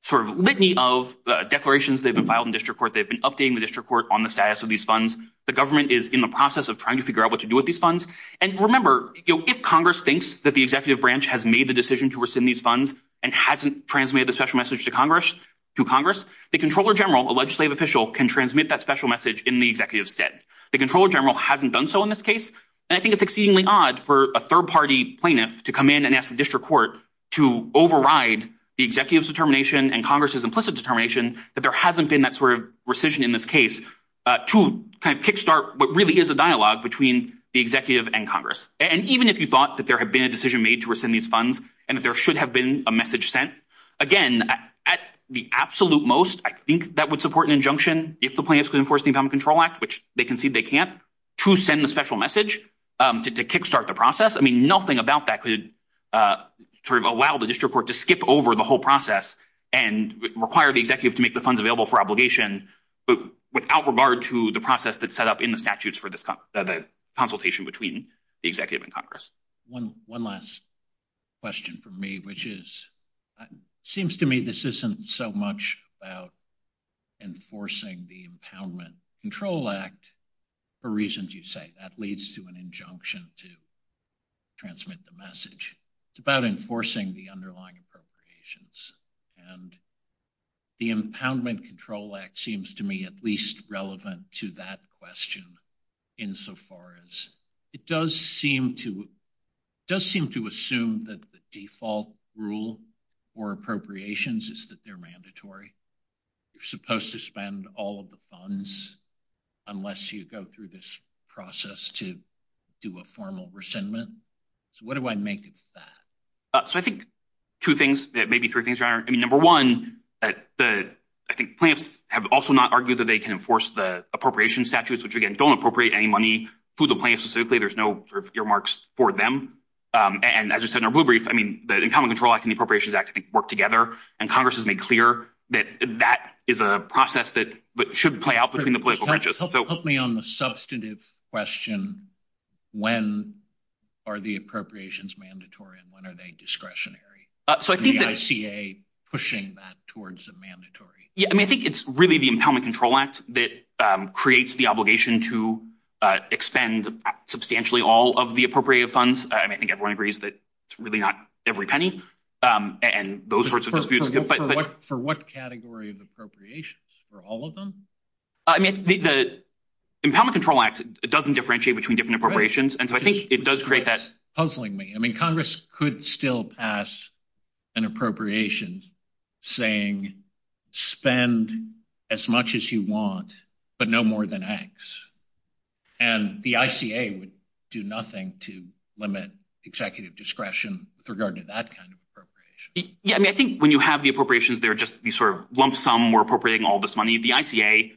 sort of litany of declarations that have been filed in district court. They've been updating the district court on the status of these funds. The government is in the process of trying to figure out what to do with these funds. And remember, if Congress thinks that the executive branch has made the decision to rescind these funds and hasn't transmitted the special message to Congress, the Comptroller General, a legislative official, can transmit that special message in the executive's stead. The Comptroller General hasn't done so in this case. And I think it's exceedingly odd for a third-party plaintiff to come in and ask the district court to override the executive's determination and Congress's implicit determination that there hasn't been that sort of rescission in this case to kind of kickstart what really is a dialogue between the executive and Congress. And even if you thought that there had been a decision made to rescind these funds and that there should have been a message sent, again, at the absolute most, I think that would support an injunction if the plaintiffs could enforce the Income Control Act, which they concede they can't, to send the special message to kickstart the process. I mean, nothing about that could sort of allow the district court to skip over the whole process and require the executive to make the funds available for obligation without regard to the process that's set up in the statutes for the consultation between the executive and Congress. One last question for me, which is, it seems to me this isn't so much about enforcing the Impoundment Control Act for reasons you say. That leads to an injunction to transmit the message. It's about enforcing the underlying appropriations. And the Impoundment Control Act seems to me at least relevant to that question insofar as it does seem to assume that the default rule for appropriations is that they're mandatory. You're supposed to spend all of the funds unless you go through this process to do a formal rescindment. So what do I make of that? So I think two things that may be true. Number one, I think plaintiffs have also not argued that they can enforce the appropriations statutes, which, again, don't appropriate any money to the plaintiffs specifically. There's no sort of earmarks for them. And as I said in a brief, I mean, the Impoundment Control Act and the Appropriations Act work together. And Congress has made clear that that is a process that should play out between the political branches. Help me on the substantive question. When are the appropriations mandatory and when are they discretionary? So I think that… And the ICA pushing that towards the mandatory. Yeah, I mean, I think it's really the Impoundment Control Act that creates the obligation to expend substantially all of the appropriated funds. I think everyone agrees that it's really not every penny and those sorts of disputes. For what category of appropriations? For all of them? I mean, the Impoundment Control Act, it doesn't differentiate between different appropriations. And so I think it does create that… Puzzling me. I mean, Congress could still pass an appropriation saying spend as much as you want, but no more than X. And the ICA would do nothing to limit executive discretion with regard to that kind of appropriation. Yeah, I mean, I think when you have the appropriations, they're just sort of lump sum. We're appropriating all this money. The ICA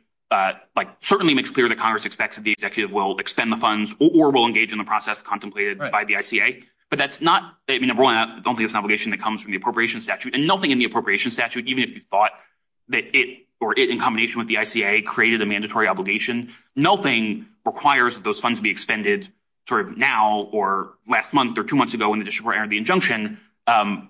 certainly makes clear that Congress expects that the executive will expend the funds or will engage in the process contemplated by the ICA. But that's not… I mean, I don't think it's an obligation that comes from the appropriation statute. And nothing in the appropriation statute, even if you thought that it or it in combination with the ICA created a mandatory obligation, nothing requires that those funds be expended sort of now or last month or two months ago in the district where I earned the injunction,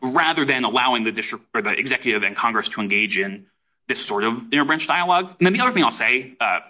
rather than allowing the district or the executive and Congress to engage in this sort of interbranch dialogue. And then the other thing I'll say, I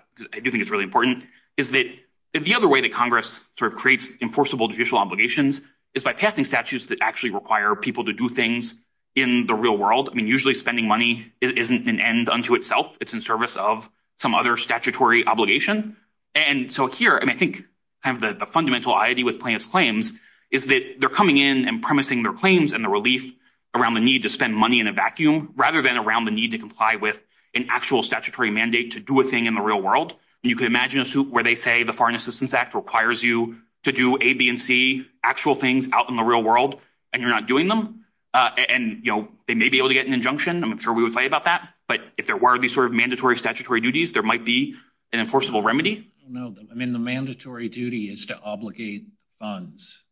do think it's really important, is that the other way that Congress sort of creates enforceable judicial obligations is by casting statutes that actually require people to do things in the real world. I mean, usually spending money isn't an end unto itself. It's in service of some other statutory obligation. And so here, I mean, I think kind of the fundamental idea with plaintiff's claims is that they're coming in and promising their claims and the relief around the need to spend money in a vacuum rather than around the need to comply with an actual statutory mandate to do a thing in the real world. And you can imagine a suit where they say the Foreign Assistance Act requires you to do A, B, and C actual things out in the real world, and you're not doing them. And, you know, they may be able to get an injunction. I'm sure we would fight about that. But if there were these sort of mandatory statutory duties, there might be an enforceable remedy. I mean, the mandatory duty is to obligate funds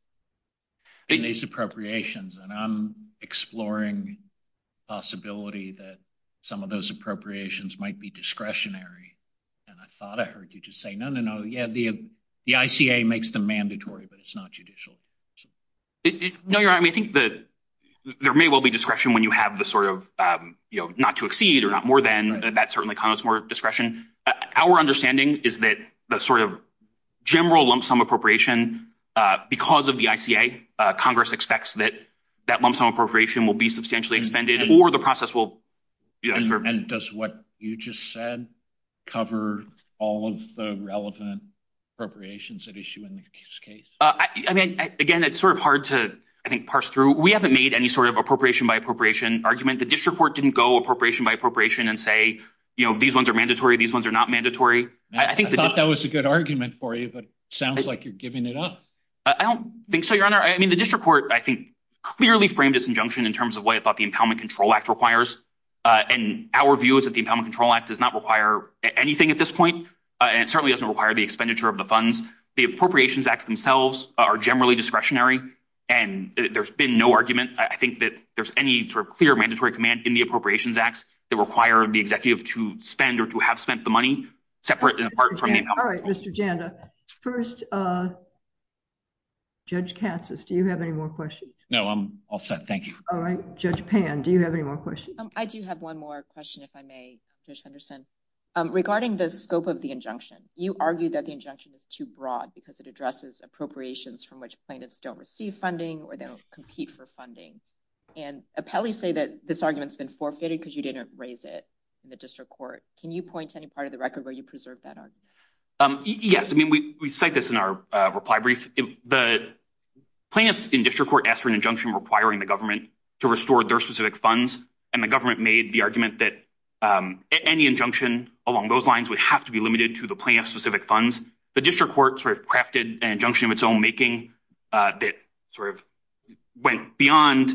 in these appropriations. And I'm exploring the possibility that some of those appropriations might be discretionary. And I thought I heard you just say, no, no, no. Yeah, the ICA makes them mandatory, but it's not judicial. No, you're right. I mean, I think that there may well be discretion when you have the sort of, you know, not to exceed or not more than. That certainly comes more discretion. Our understanding is that the sort of general lump sum appropriation, because of the ICA, Congress expects that that lump sum appropriation will be substantially expended or the process will. And does what you just said cover all of the relevant appropriations at issue in this case? I mean, again, it's sort of hard to, I think, parse through. We haven't made any sort of appropriation by appropriation argument. The district court didn't go appropriation by appropriation and say, you know, these ones are mandatory. These ones are not mandatory. I think that was a good argument for you, but sounds like you're giving it up. I don't think so, Your Honor. I mean, the district court, I think, clearly framed this injunction in terms of what it thought the Impoundment Control Act requires. And our view is that the Impoundment Control Act does not require anything at this point. And it certainly doesn't require the expenditure of the funds. The Appropriations Act themselves are generally discretionary, and there's been no argument. I think that there's any sort of clear mandatory command in the Appropriations Act that require the executive to spend or to have spent the money separate and apart from the Impoundment Control Act. All right, Mr. Janda. First, Judge Katsas, do you have any more questions? No, I'm all set. Thank you. All right. Judge Pan, do you have any more questions? I do have one more question, if I may, Judge Henderson. Regarding the scope of the injunction, you argue that the injunction is too broad because it addresses appropriations from which plaintiffs don't receive funding or don't compete for funding. And appellees say that this argument's been forfeited because you didn't raise it in the district court. Can you point to any part of the record where you preserved that argument? Yes. I mean, we cite this in our reply brief. The plaintiffs in district court asked for an injunction requiring the government to restore their specific funds, and the government made the argument that any injunction along those lines would have to be limited to the plaintiff's specific funds. The district court sort of crafted an injunction of its own making that sort of went beyond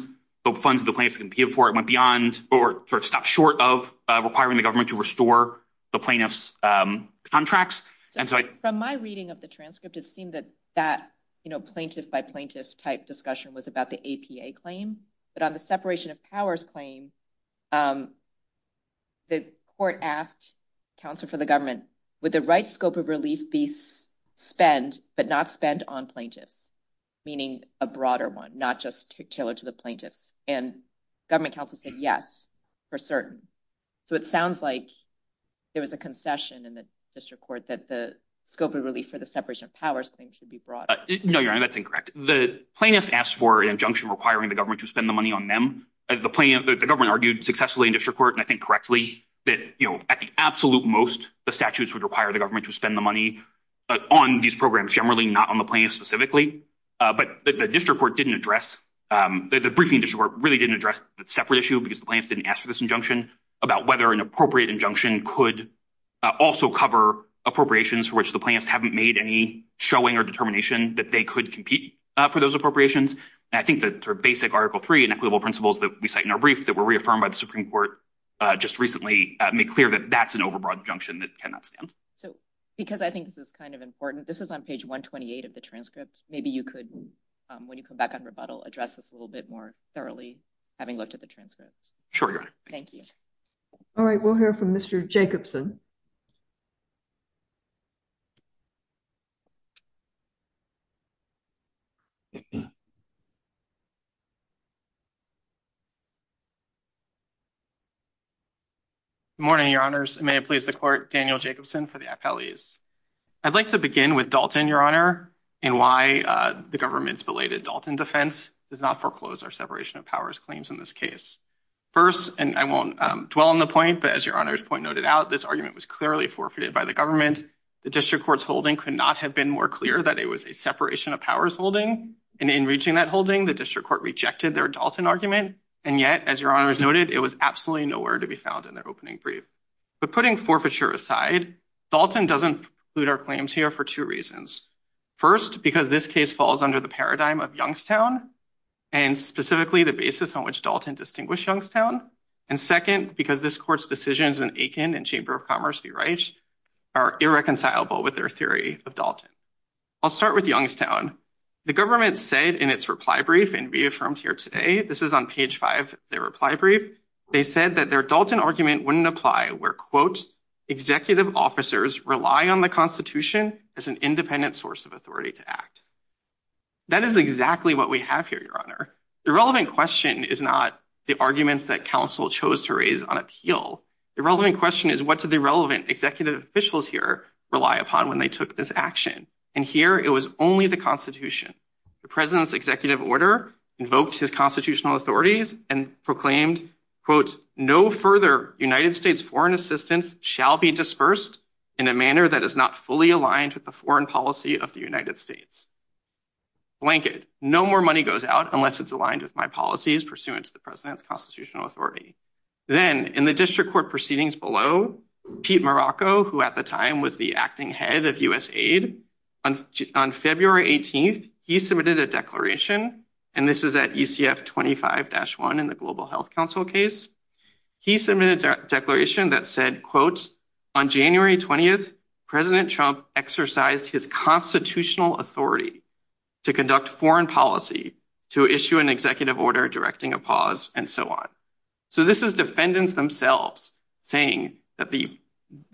the funds that the plaintiffs competed for. It went beyond or sort of stopped short of requiring the government to restore the plaintiffs' contracts. From my reading of the transcript, it seemed that that plaintiff-by-plaintiff type discussion was about the APA claim. But on the separation of powers claim, the court asked counsel for the government, would the right scope of relief be spent but not spent on plaintiffs, meaning a broader one, not just tailored to the plaintiffs? And government counsel said yes, for certain. So it sounds like there was a concession in the district court that the scope of relief for the separation of powers claim should be broadened. No, Your Honor, that's incorrect. The plaintiffs asked for an injunction requiring the government to spend the money on them. The government argued successfully in district court, and I think correctly, that at the absolute most, the statutes would require the government to spend the money on these programs generally, not on the plaintiffs specifically. But the district court didn't address – the briefing district court really didn't address the separate issue, because the plaintiffs didn't ask for this injunction, about whether an appropriate injunction could also cover appropriations for which the plaintiffs haven't made any showing or determination that they could compete for those appropriations. And I think that sort of basic Article III and equitable principles that we cite in our brief that were reaffirmed by the Supreme Court just recently make clear that that's an overbroad injunction that cannot stand. Because I think this is kind of important, this is on page 128 of the transcript. Maybe you could, when you come back on rebuttal, address this a little bit more thoroughly, having looked at the transcript. Sure. Thank you. All right, we'll hear from Mr. Jacobson. Good morning, Your Honors. May I please declare Daniel Jacobson for the appellees. I'd like to begin with Dalton, Your Honor, and why the government's belated Dalton defense does not foreclose our separation of powers claims in this case. First, and I won't dwell on the point, but as Your Honor's point noted out, this argument was clearly forfeited by the government. The district court's holding could not have been more clear that it was a separation of powers holding. And in reaching that holding, the district court rejected their Dalton argument. And yet, as Your Honor noted, it was absolutely nowhere to be found in their opening brief. But putting forfeiture aside, Dalton doesn't include our claims here for two reasons. First, because this case falls under the paradigm of Youngstown and specifically the basis on which Dalton distinguished Youngstown. And second, because this court's decisions in Aiken and Chamber of Commerce v. Reich are irreconcilable with their theory of Dalton. I'll start with Youngstown. The government said in its reply brief, and reaffirmed here today, this is on page five, their reply brief, they said that their Dalton argument wouldn't apply where, quote, executive officers rely on the Constitution as an independent source of authority to act. That is exactly what we have here, Your Honor. The relevant question is not the arguments that counsel chose to raise on appeal. The relevant question is what do the relevant executive officials here rely upon when they took this action? And here it was only the Constitution. The president's executive order invoked his constitutional authorities and proclaimed, quote, no further United States foreign assistance shall be dispersed in a manner that is not fully aligned with the foreign policy of the United States. Blanket. No more money goes out unless it's aligned with my policies pursuant to the president's constitutional authority. Then in the district court proceedings below, Pete Morocco, who at the time was the acting head of USAID, on February 18th, he submitted a declaration, and this is at UCF 25-1 in the Global Health Council case. He submitted a declaration that said, quote, on January 20th, President Trump exercised his constitutional authority to conduct foreign policy, to issue an executive order directing a pause and so on. So this is defendants themselves saying that the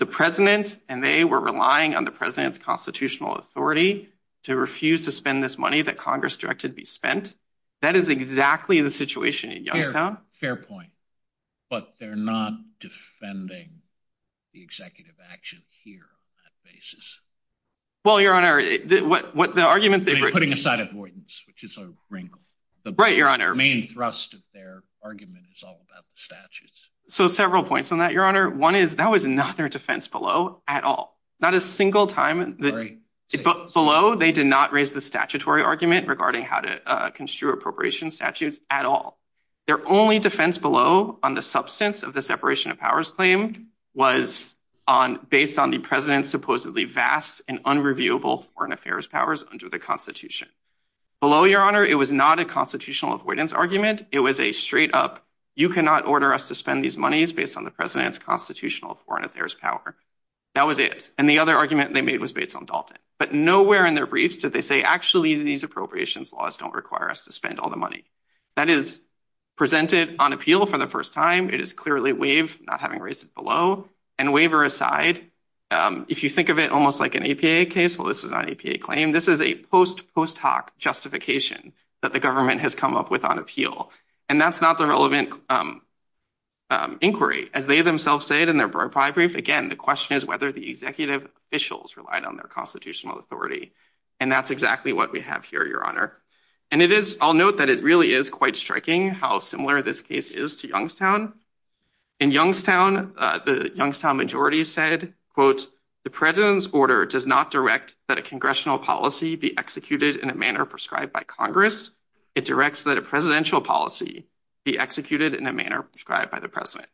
president and they were relying on the president's constitutional authority to refuse to spend this money that Congress directed be spent. That is exactly the situation in Yellowtown. Fair point, but they're not defending the executive action here on that basis. Well, Your Honor, what the argument... Putting aside avoidance, which is a ring. Right, Your Honor. The main thrust of their argument is all about the statutes. So several points on that, Your Honor. One is that was not their defense below at all. Not a single time below, they did not raise the statutory argument regarding how to construe appropriation statutes at all. Their only defense below on the substance of the separation of powers claim was based on the president's supposedly vast and unreviewable foreign affairs powers under the Constitution. Below, Your Honor, it was not a constitutional avoidance argument. It was a straight up, you cannot order us to spend these monies based on the president's constitutional foreign affairs power. That was it. And the other argument they made was based on Dalton. But nowhere in their briefs did they say actually these appropriations laws don't require us to spend all the money. That is presented on appeal for the first time. It is clearly waived, not having raised it below. And waiver aside, if you think of it almost like an APA case, well, this is not an APA claim. This is a post hoc justification that the government has come up with on appeal. And that's not the relevant inquiry. As they themselves said in their brief, again, the question is whether the executive officials relied on their constitutional authority. And that's exactly what we have here, Your Honor. And it is, I'll note that it really is quite striking how similar this case is to Youngstown. In Youngstown, the Youngstown majority said, quote, the president's order does not direct that a congressional policy be executed in a manner prescribed by Congress. It directs that a presidential policy be executed in a manner prescribed by the president.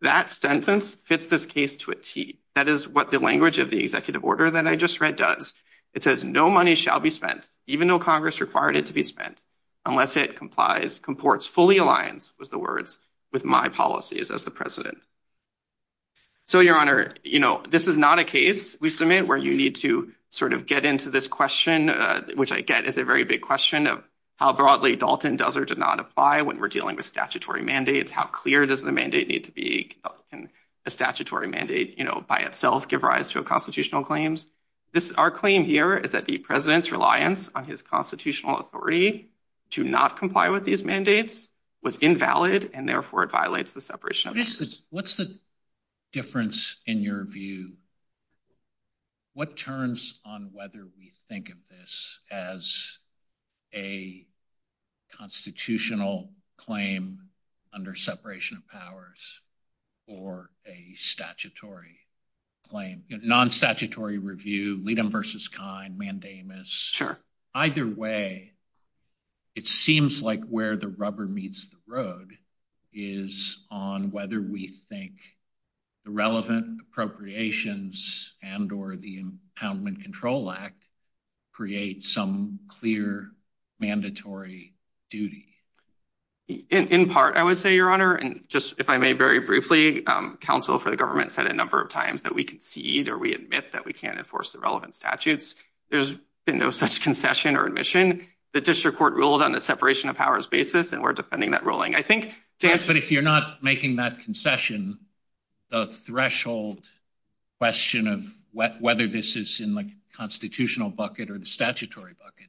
That sentence fits this case to a T. That is what the language of the executive order that I just read does. It says no money shall be spent, even though Congress required it to be spent, unless it complies, comports fully in line with the words, with my policies as the president. So, Your Honor, you know, this is not a case we submit where you need to sort of get into this question, which I get is a very big question of how broadly Dalton does or does not apply when we're dealing with statutory mandates. How clear does the mandate need to be? A statutory mandate, you know, by itself, give rise to a constitutional claims. Our claim here is that the president's reliance on his constitutional authority to not comply with these mandates was invalid, and therefore it violates the separation of powers. What's the difference in your view? What turns on whether we think of this as a constitutional claim under separation of powers or a statutory claim? In non statutory review, lead them versus kind mandamus. Either way, it seems like where the rubber meets the road is on whether we think the relevant appropriations and or the impoundment control act create some clear mandatory duty. In part, I would say, Your Honor, and just if I may, very briefly, counsel for the government said a number of times that we concede or we admit that we can't enforce the relevant statutes. There's been no such concession or admission. The district court ruled on the separation of powers basis, and we're defending that ruling. But if you're not making that concession, the threshold question of whether this is in the constitutional bucket or the statutory bucket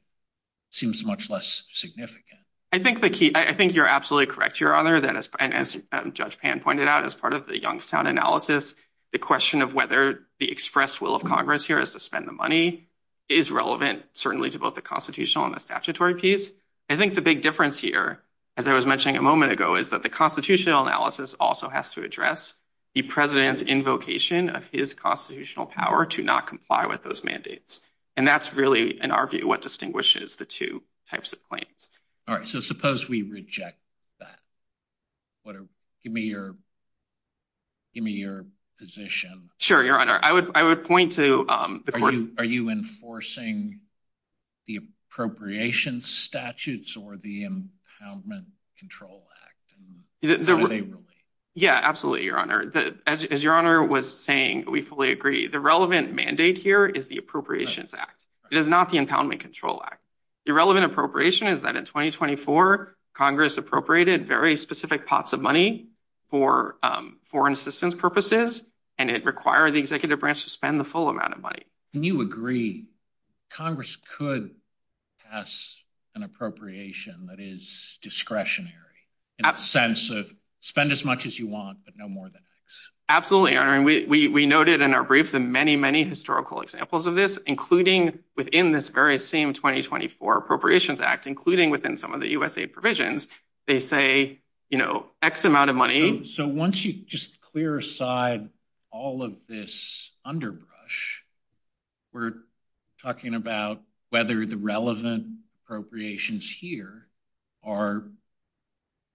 seems much less significant. I think you're absolutely correct, Your Honor, that as Judge Pan pointed out, as part of the Youngstown analysis, the question of whether the expressed will of Congress here is to spend the money is relevant, certainly to both the constitutional and the statutory piece. I think the big difference here, as I was mentioning a moment ago, is that the constitutional analysis also has to address the president's invocation of his constitutional power to not comply with those mandates. And that's really, in our view, what distinguishes the two types of claims. All right, so suppose we reject that. Give me your position. Sure, Your Honor. I would point to... Are you enforcing the appropriations statutes or the Impoundment Control Act? Yeah, absolutely, Your Honor. As Your Honor was saying, we fully agree the relevant mandate here is the Appropriations Act. It is not the Impoundment Control Act. The relevant appropriation is that in 2024, Congress appropriated very specific pots of money for foreign assistance purposes, and it required the executive branch to spend the full amount of money. And you agree Congress could pass an appropriation that is discretionary, in the sense of spend as much as you want, but no more than that. Absolutely, Your Honor. We noted in our briefs and many, many historical examples of this, including within this very same 2024 Appropriations Act, including within some of the USAID provisions, they say X amount of money... So once you just clear aside all of this underbrush, we're talking about whether the relevant appropriations here are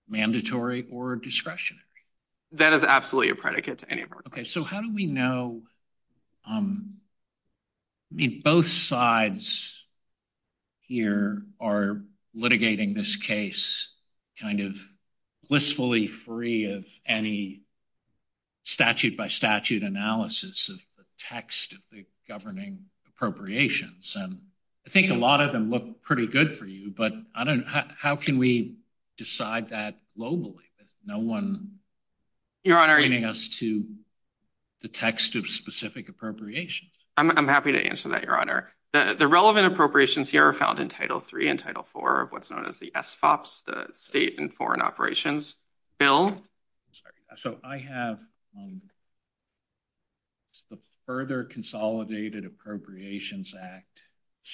mandatory or discretionary. That is absolutely a predicate to any of our claims. Okay. So how do we know... I mean, both sides here are litigating this case kind of blissfully free of any statute-by-statute analysis of the text of the governing appropriations. And I think a lot of them look pretty good for you, but how can we decide that globally? No one is giving us to the text of specific appropriations. I'm happy to answer that, Your Honor. The relevant appropriations here are found in Title III and Title IV of what's known as the SFOPS, the State and Foreign Operations Bill. So I have the Further Consolidated Appropriations Act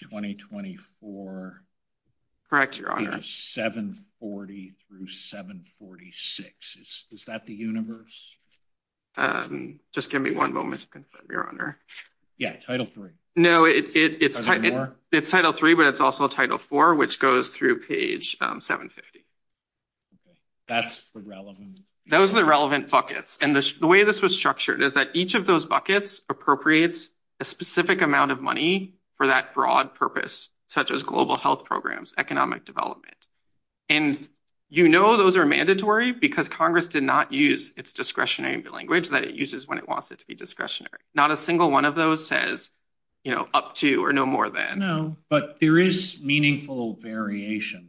2024... Correct, Your Honor. 740 through 746. Is that the universe? Just give me one moment to confirm, Your Honor. Yeah, Title III. No, it's Title III, but it's also Title IV, which goes through page 750. That's the relevant... Those are the relevant buckets. And the way this was structured is that each of those buckets appropriates a specific amount of money for that broad purpose, such as global health programs, economic development. And you know those are mandatory because Congress did not use its discretionary language that it uses when it wants it to be discretionary. Not a single one of those says, you know, up to or no more than. No, but there is meaningful variation.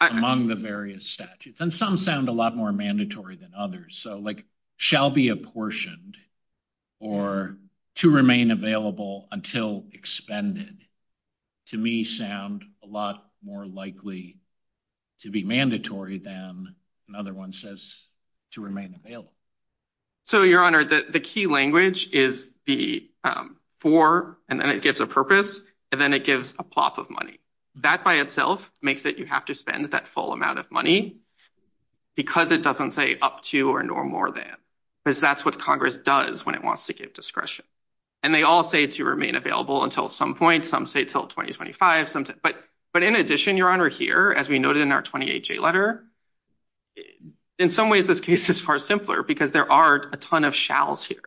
Among the various statutes, and some sound a lot more mandatory than others. So, like, shall be apportioned or to remain available until expended, to me, sound a lot more likely to be mandatory than another one says to remain available. So, Your Honor, the key language is the for, and then it gives a purpose, and then it gives a plop of money. That by itself makes it you have to spend that full amount of money because it doesn't say up to or no more than. Because that's what Congress does when it wants to give discretion. And they all say to remain available until some point. Some say until 2025. But in addition, Your Honor, here, as we noted in our 28-J letter, in some ways this case is far simpler because there are a ton of shalls here.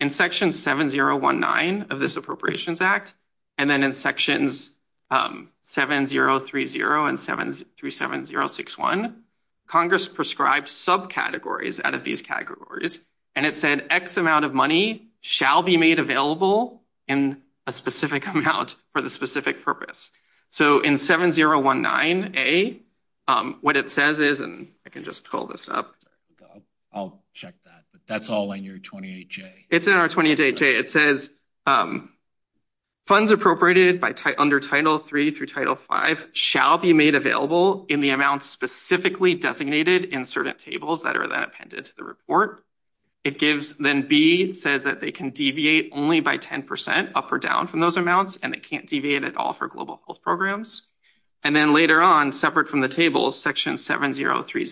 In section 7019 of this Appropriations Act, and then in sections 7030 and 737061, Congress prescribed subcategories out of these categories. And it said X amount of money shall be made available in a specific amount for the specific purpose. So, in 7019A, what it says is, and I can just pull this up. I'll check that. That's all in your 28-J. It's in our 28-J. It says, funds appropriated under Title III through Title V shall be made available in the amount specifically designated in certain tables that are then appended to the report. Then B says that they can deviate only by 10% up or down from those amounts, and they can't deviate at all for global health programs. And then later on, separate from the tables, section 7030 through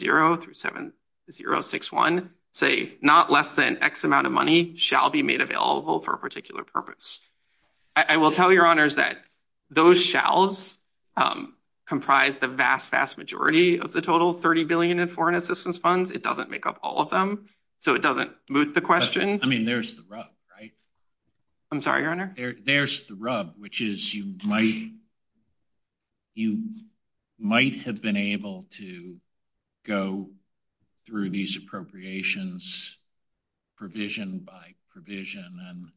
7061 say not less than X amount of money shall be made available for a particular purpose. I will tell Your Honors that those shalls comprise the vast, vast majority of the total $30 billion in foreign assistance funds. It doesn't make up all of them, so it doesn't smooth the question. I mean, there's the rub, right? I'm sorry, Your Honor? There's the rub, which is you might have been able to go through these appropriations provision by provision and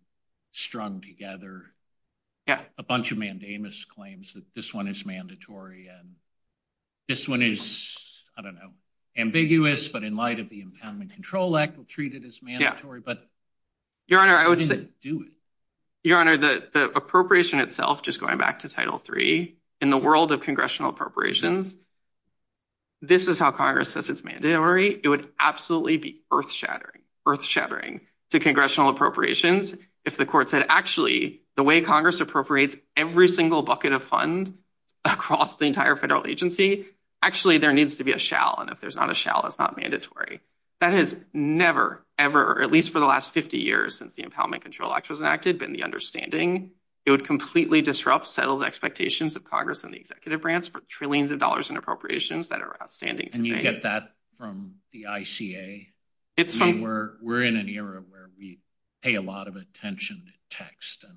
strung together a bunch of mandamus claims that this one is mandatory and this one is, I don't know, ambiguous, but in light of the Impoundment Control Act, we'll treat it as mandatory. But Your Honor, I wouldn't do it. Your Honor, the appropriation itself, just going back to Title III, in the world of congressional appropriations, this is how Congress says it's mandatory. It would absolutely be earth-shattering to congressional appropriations if the court said, actually, the way Congress appropriates every single bucket of funds across the entire federal agency, actually, there needs to be a shall. And if there's not a shall, it's not mandatory. That has never, ever, at least for the last 50 years since the Impoundment Control Act was enacted, been the understanding. It would completely disrupt settled expectations of progress in the executive branch for trillions of dollars in appropriations that are outstanding. And you get that from the ICA. We're in an era where we pay a lot of attention to text and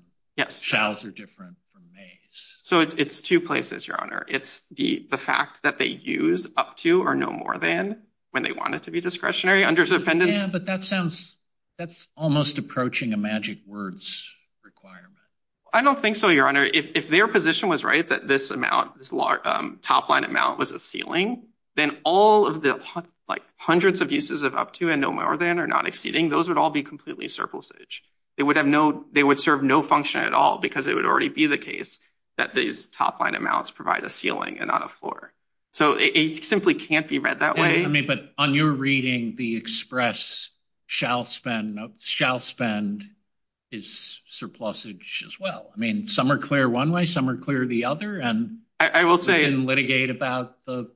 shalls are different from mays. So it's two places, Your Honor. It's the fact that they use up to or no more than when they want it to be discretionary under the defendant. Yeah, but that's almost approaching a magic words requirement. I don't think so, Your Honor. If their position was right that this amount, this top-line amount was a ceiling, then all of the hundreds of uses of up to and no more than are not exceeding. Those would all be completely surplusage. They would serve no function at all because it would already be the case that these top-line amounts provide a ceiling and not a floor. So it simply can't be read that way. I mean, but on your reading, the express shall spend is surplusage as well. I mean, some are clear one way. Some are clear the other. And I will say and litigate about the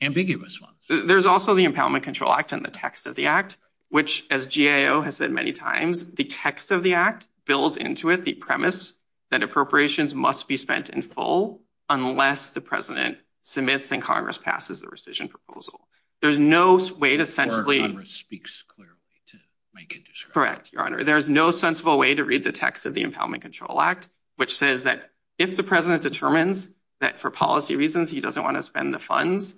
ambiguous ones. There's also the Impoundment Control Act and the text of the act, which, as GAO has said many times, the text of the act builds into it. The premise that appropriations must be spent in full unless the president submits and Congress passes a rescission proposal. There's no way to essentially speaks clearly to make it correct. Your Honor, there's no sensible way to read the text of the Impoundment Control Act, which says that if the president determines that for policy reasons, he doesn't want to spend the funds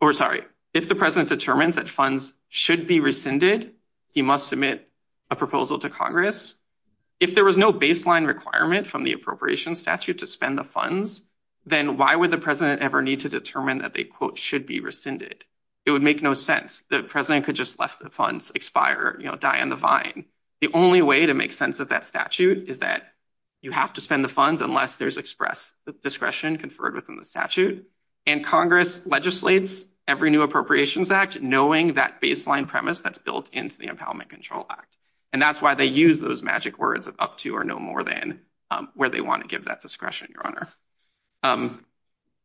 or sorry. If the president determines that funds should be rescinded, he must submit a proposal to Congress. If there was no baseline requirement from the appropriations statute to spend the funds, then why would the president ever need to determine that they quote should be rescinded? It would make no sense. The president could just let the funds expire, die in the vine. The only way to make sense of that statute is that you have to spend the funds unless there's express discretion conferred within the statute. And Congress legislates every new Appropriations Act, knowing that baseline premise that's built into the Impoundment Control Act. And that's why they use those magic words up to or no more than where they want to give that discretion, Your Honor.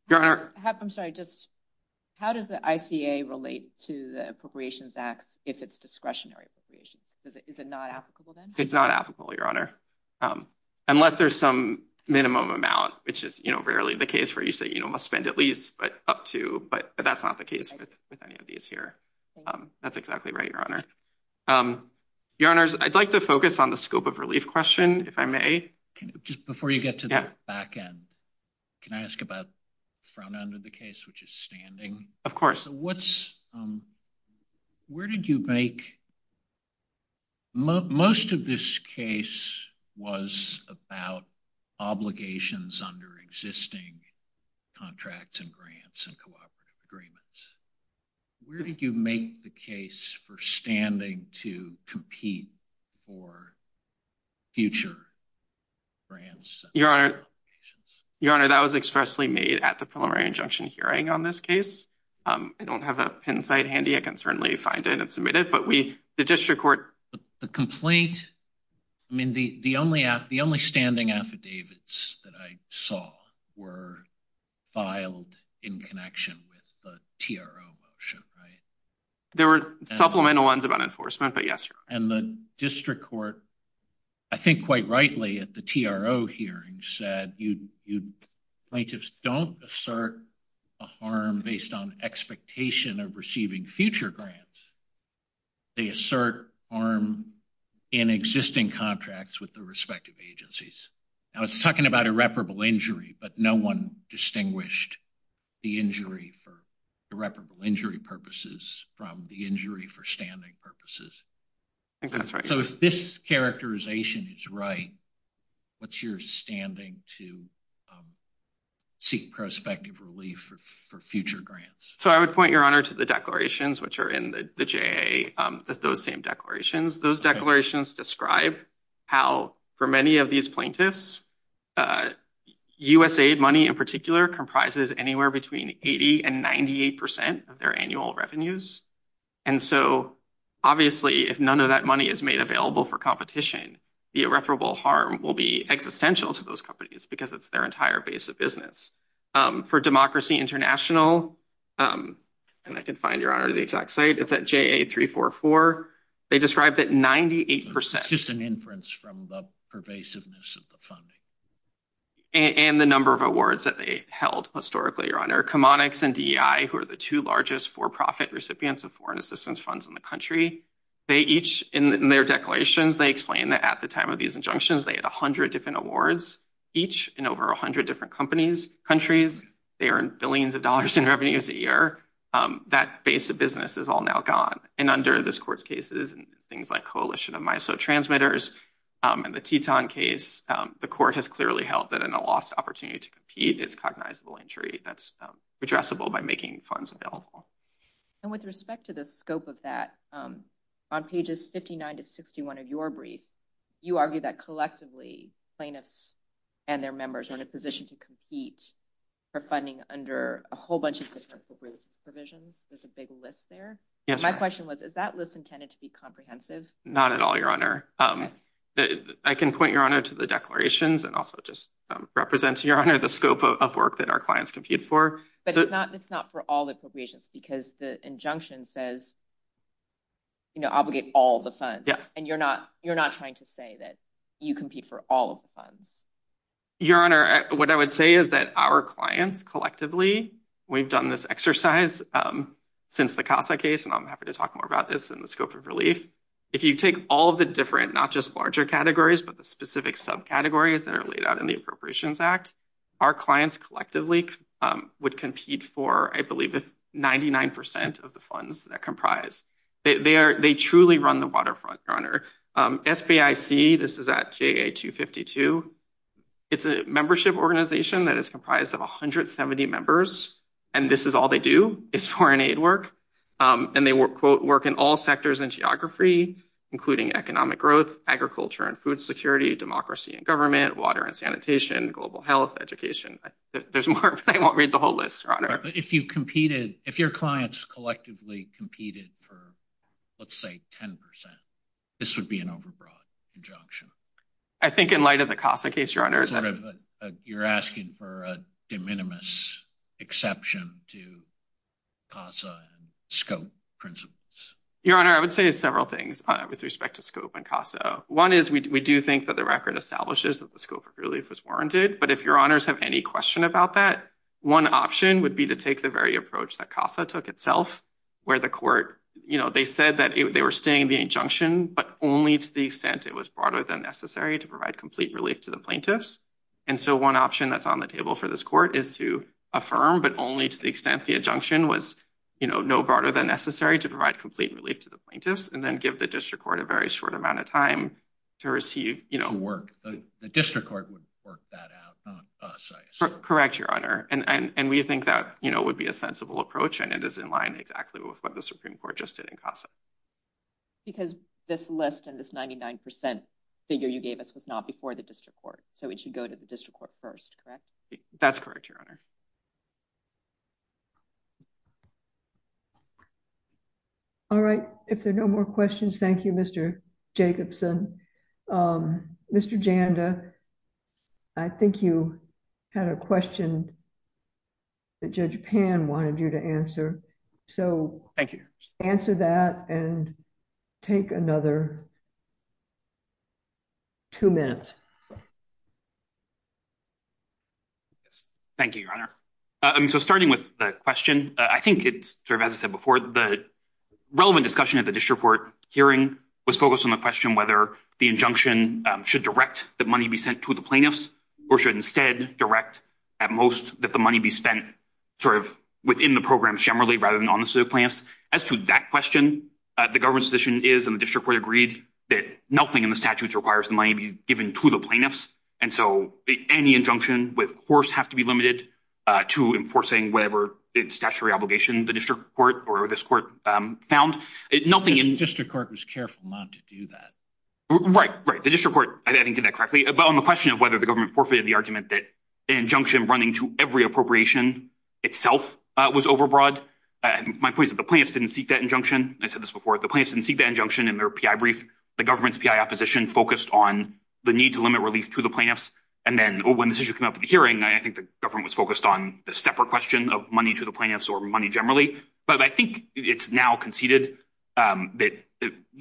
I'm sorry, just how does the ICA relate to the Appropriations Act if it's discretionary? Is it not applicable? It's not applicable, Your Honor, unless there's some minimum amount, which is rarely the case where you say you must spend at least up to. But that's not the case with any of these here. That's exactly right, Your Honor. Your Honor, I'd like to focus on the scope of relief question, if I may. Just before you get to that back end, can I ask about the front end of the case, which is standing? Most of this case was about obligations under existing contracts and grants and cooperative agreements. Where did you make the case for standing to compete for future grants? Your Honor, that was expressly made at the preliminary injunction hearing on this case. I don't have a pin site handy. I can certainly find it and submit it, but the district court. The complete, I mean, the only standing affidavits that I saw were filed in connection with the TRO motion, right? There were supplemental ones about enforcement, but yes, Your Honor. And the district court, I think quite rightly at the TRO hearing, said plaintiffs don't assert a harm based on expectation of receiving future grants. They assert harm in existing contracts with the respective agencies. I was talking about irreparable injury, but no one distinguished the injury for irreparable injury purposes from the injury for standing purposes. I think that's right. So if this characterization is right, what's your standing to seek prospective relief for future grants? So I would point, Your Honor, to the declarations which are in the JAA, those same declarations. Those declarations describe how for many of these plaintiffs, USAID money in particular comprises anywhere between 80 and 98 percent of their annual revenues. And so obviously, if none of that money is made available for competition, the irreparable harm will be existential to those companies because it's their entire base of business. For Democracy International, and I can find, Your Honor, the exact site, it's at JAA 344. They described that 98 percent. It's just an inference from the pervasiveness of the funding. And the number of awards that they held historically, Your Honor. CommonX and DEI, who are the two largest for-profit recipients of foreign assistance funds in the country, they each in their declarations, they explain that at the time of these injunctions, they had 100 different awards, each in over 100 different companies. And in these countries, they earned billions of dollars in revenues a year. That base of business is all now gone. And under this Court's cases, things like Coalition of Miso Transmitters and the Teton case, the Court has clearly held that in a lost opportunity to compete, it's cognizable injury that's addressable by making funds available. And with respect to the scope of that, on pages 59 to 61 of your brief, you argue that collectively, plaintiffs and their members are in a position to compete for funding under a whole bunch of different appropriate provisions. There's a big list there. My question was, is that list intended to be comprehensive? Not at all, Your Honor. I can point, Your Honor, to the declarations and also just represent, Your Honor, the scope of work that our clients compete for. But it's not for all appropriations because the injunction says, you know, obligate all the funds. And you're not trying to say that you compete for all of the funds. Your Honor, what I would say is that our clients, collectively, we've done this exercise since the Casa case, and I'm happy to talk more about this in the scope of relief. If you take all of the different, not just larger categories, but the specific subcategories that are laid out in the Appropriations Act, our clients, collectively, would compete for, I believe, 99% of the funds that comprise. They truly run the waterfront, Your Honor. SBIC, this is at CAA 252, it's a membership organization that is comprised of 170 members, and this is all they do is foreign aid work. And they work in all sectors and geography, including economic growth, agriculture and food security, democracy and government, water and sanitation, global health, education. There's more, but I won't read the whole list, Your Honor. But if your clients collectively competed for, let's say, 10%, this would be an overbroad injunction. I think in light of the Casa case, Your Honor. You're asking for a de minimis exception to Casa scope principles. Your Honor, I would say several things with respect to scope and Casa. One is we do think that the record establishes that the scope of relief is warranted, but if Your Honors have any question about that, one option would be to take the very approach that Casa took itself, where the court, you know, they said that they were staying the injunction, but only to the extent it was broader than necessary to provide complete relief to the plaintiffs. And so one option that's on the table for this court is to affirm, but only to the extent the injunction was, you know, no broader than necessary to provide complete relief to the plaintiffs, and then give the district court a very short amount of time to receive, you know. The district court would work that out. Correct, Your Honor. And we think that, you know, would be a sensible approach, and it is in line exactly with what the Supreme Court just did in Casa. Because this list and this 99% figure you gave us was not before the district court, so it should go to the district court first, correct? That's correct, Your Honor. All right, if there are no more questions, thank you, Mr. Jacobson. Mr. Janda, I think you had a question that Judge Pan wanted you to answer. So answer that and take another two minutes. Thank you, Your Honor. So starting with the question, I think it's sort of as I said before, the relevant discussion at the district court hearing was focused on the question whether the injunction should direct the money be sent to the plaintiffs or should instead direct at most that the money be spent sort of within the program generally rather than on the plaintiffs. As to that question, the government's position is, and the district court agreed, that nothing in the statute requires the money be given to the plaintiffs. And so any injunction with force has to be limited to enforcing whatever statutory obligation the district court or this court found. The district court was careful not to do that. Right, right. The district court, I think, did that correctly. But on the question of whether the government forfeited the argument that an injunction running to every appropriation itself was overbroad, my point is that the plaintiffs didn't seek that injunction. I said this before. The plaintiffs didn't seek that injunction in their PI brief. The government's PI opposition focused on the need to limit relief to the plaintiffs. And then when this issue came up at the hearing, I think the government was focused on the separate question of money to the plaintiffs or money generally. But I think it's now conceded that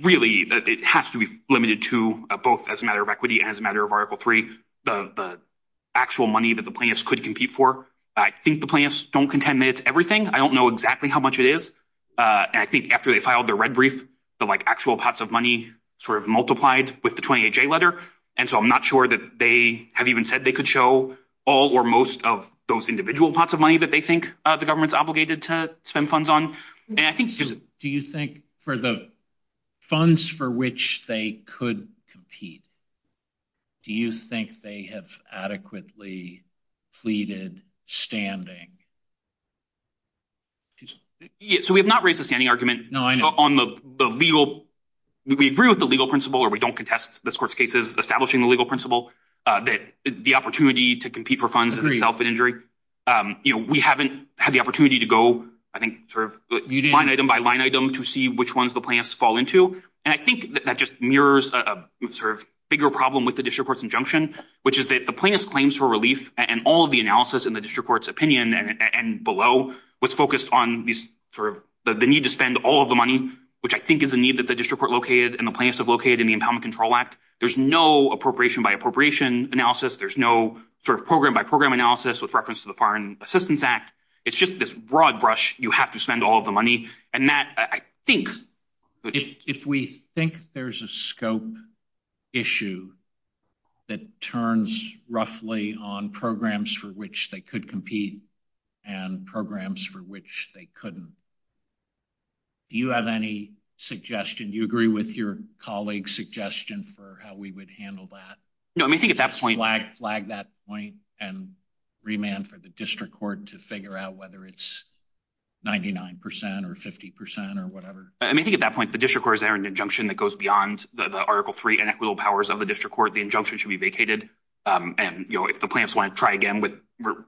really it has to be limited to both as a matter of equity and as a matter of Article 3, the actual money that the plaintiffs could compete for. I think the plaintiffs don't contend that it's everything. I don't know exactly how much it is. I think after they filed their red brief, the actual pots of money sort of multiplied with the 28-J letter. And so I'm not sure that they have even said they could show all or most of those individual pots of money that they think the government's obligated to spend funds on. Do you think for the funds for which they could compete, do you think they have adequately pleaded standing? So we have not raised a standing argument on the legal—we agree with the legal principle, or we don't contest this court's cases establishing the legal principle, that the opportunity to compete for funds is itself an injury. We haven't had the opportunity to go, I think, sort of line item by line item to see which ones the plaintiffs fall into. And I think that just mirrors a bigger problem with the district court's injunction, which is that the plaintiff's claims for relief and all of the analysis in the district court's opinion and below was focused on the need to spend all of the money, which I think is a need that the district court located and the plaintiffs have located in the Empowerment Control Act. There's no appropriation by appropriation analysis. There's no sort of program by program analysis with reference to the Foreign Assistance Act. It's just this broad brush. You have to spend all of the money, and that, I think— If we think there's a scope issue that turns roughly on programs for which they could compete and programs for which they couldn't, do you have any suggestion? Do you agree with your colleague's suggestion for how we would handle that? No, I think at that point— Can I flag that point and remand for the district court to figure out whether it's 99 percent or 50 percent or whatever? I mean, I think at that point, the district court has their own injunction that goes beyond the Article III inequitable powers of the district court. The injunction should be vacated, and if the plaintiffs want to try again with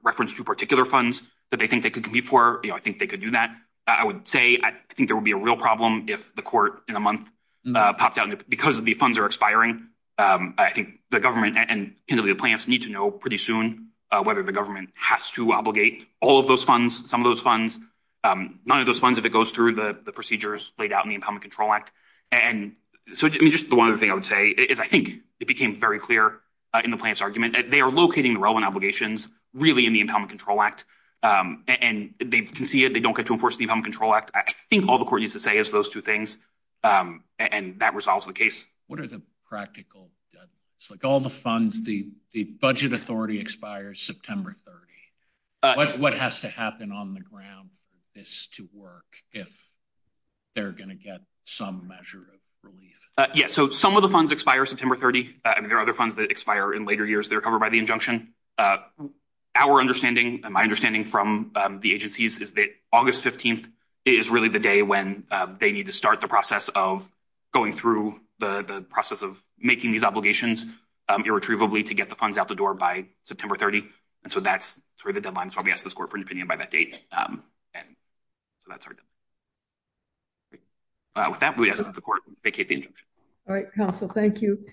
reference to particular funds that they think they could compete for, I think they could do that. I would say I think there would be a real problem if the court in a month popped out because the funds are expiring. I think the government and the plaintiffs need to know pretty soon whether the government has to obligate all of those funds, some of those funds. None of those funds, if it goes through the procedures laid out in the Empowerment Control Act. And so just the one other thing I would say is I think it became very clear in the plaintiffs' argument that they are locating the relevant obligations really in the Empowerment Control Act. And they can see it. They don't get to enforce the Empowerment Control Act. I think all the court needs to say is those two things, and that resolves the case. What are the practical deadlines? Like all the funds, the budget authority expires September 30. What has to happen on the ground for this to work if they're going to get some measure of relief? Yeah, so some of the funds expire September 30. There are other funds that expire in later years. They're covered by the injunction. Our understanding and my understanding from the agencies is that August 15 is really the day when they need to start the process of going through the process of making these obligations irretrievably to get the funds out the door by September 30. And so that's sort of the deadline. So I'll be asking this court for an opinion by that date. With that, we ask that the court vacate the injunction. All right, counsel. Thank you.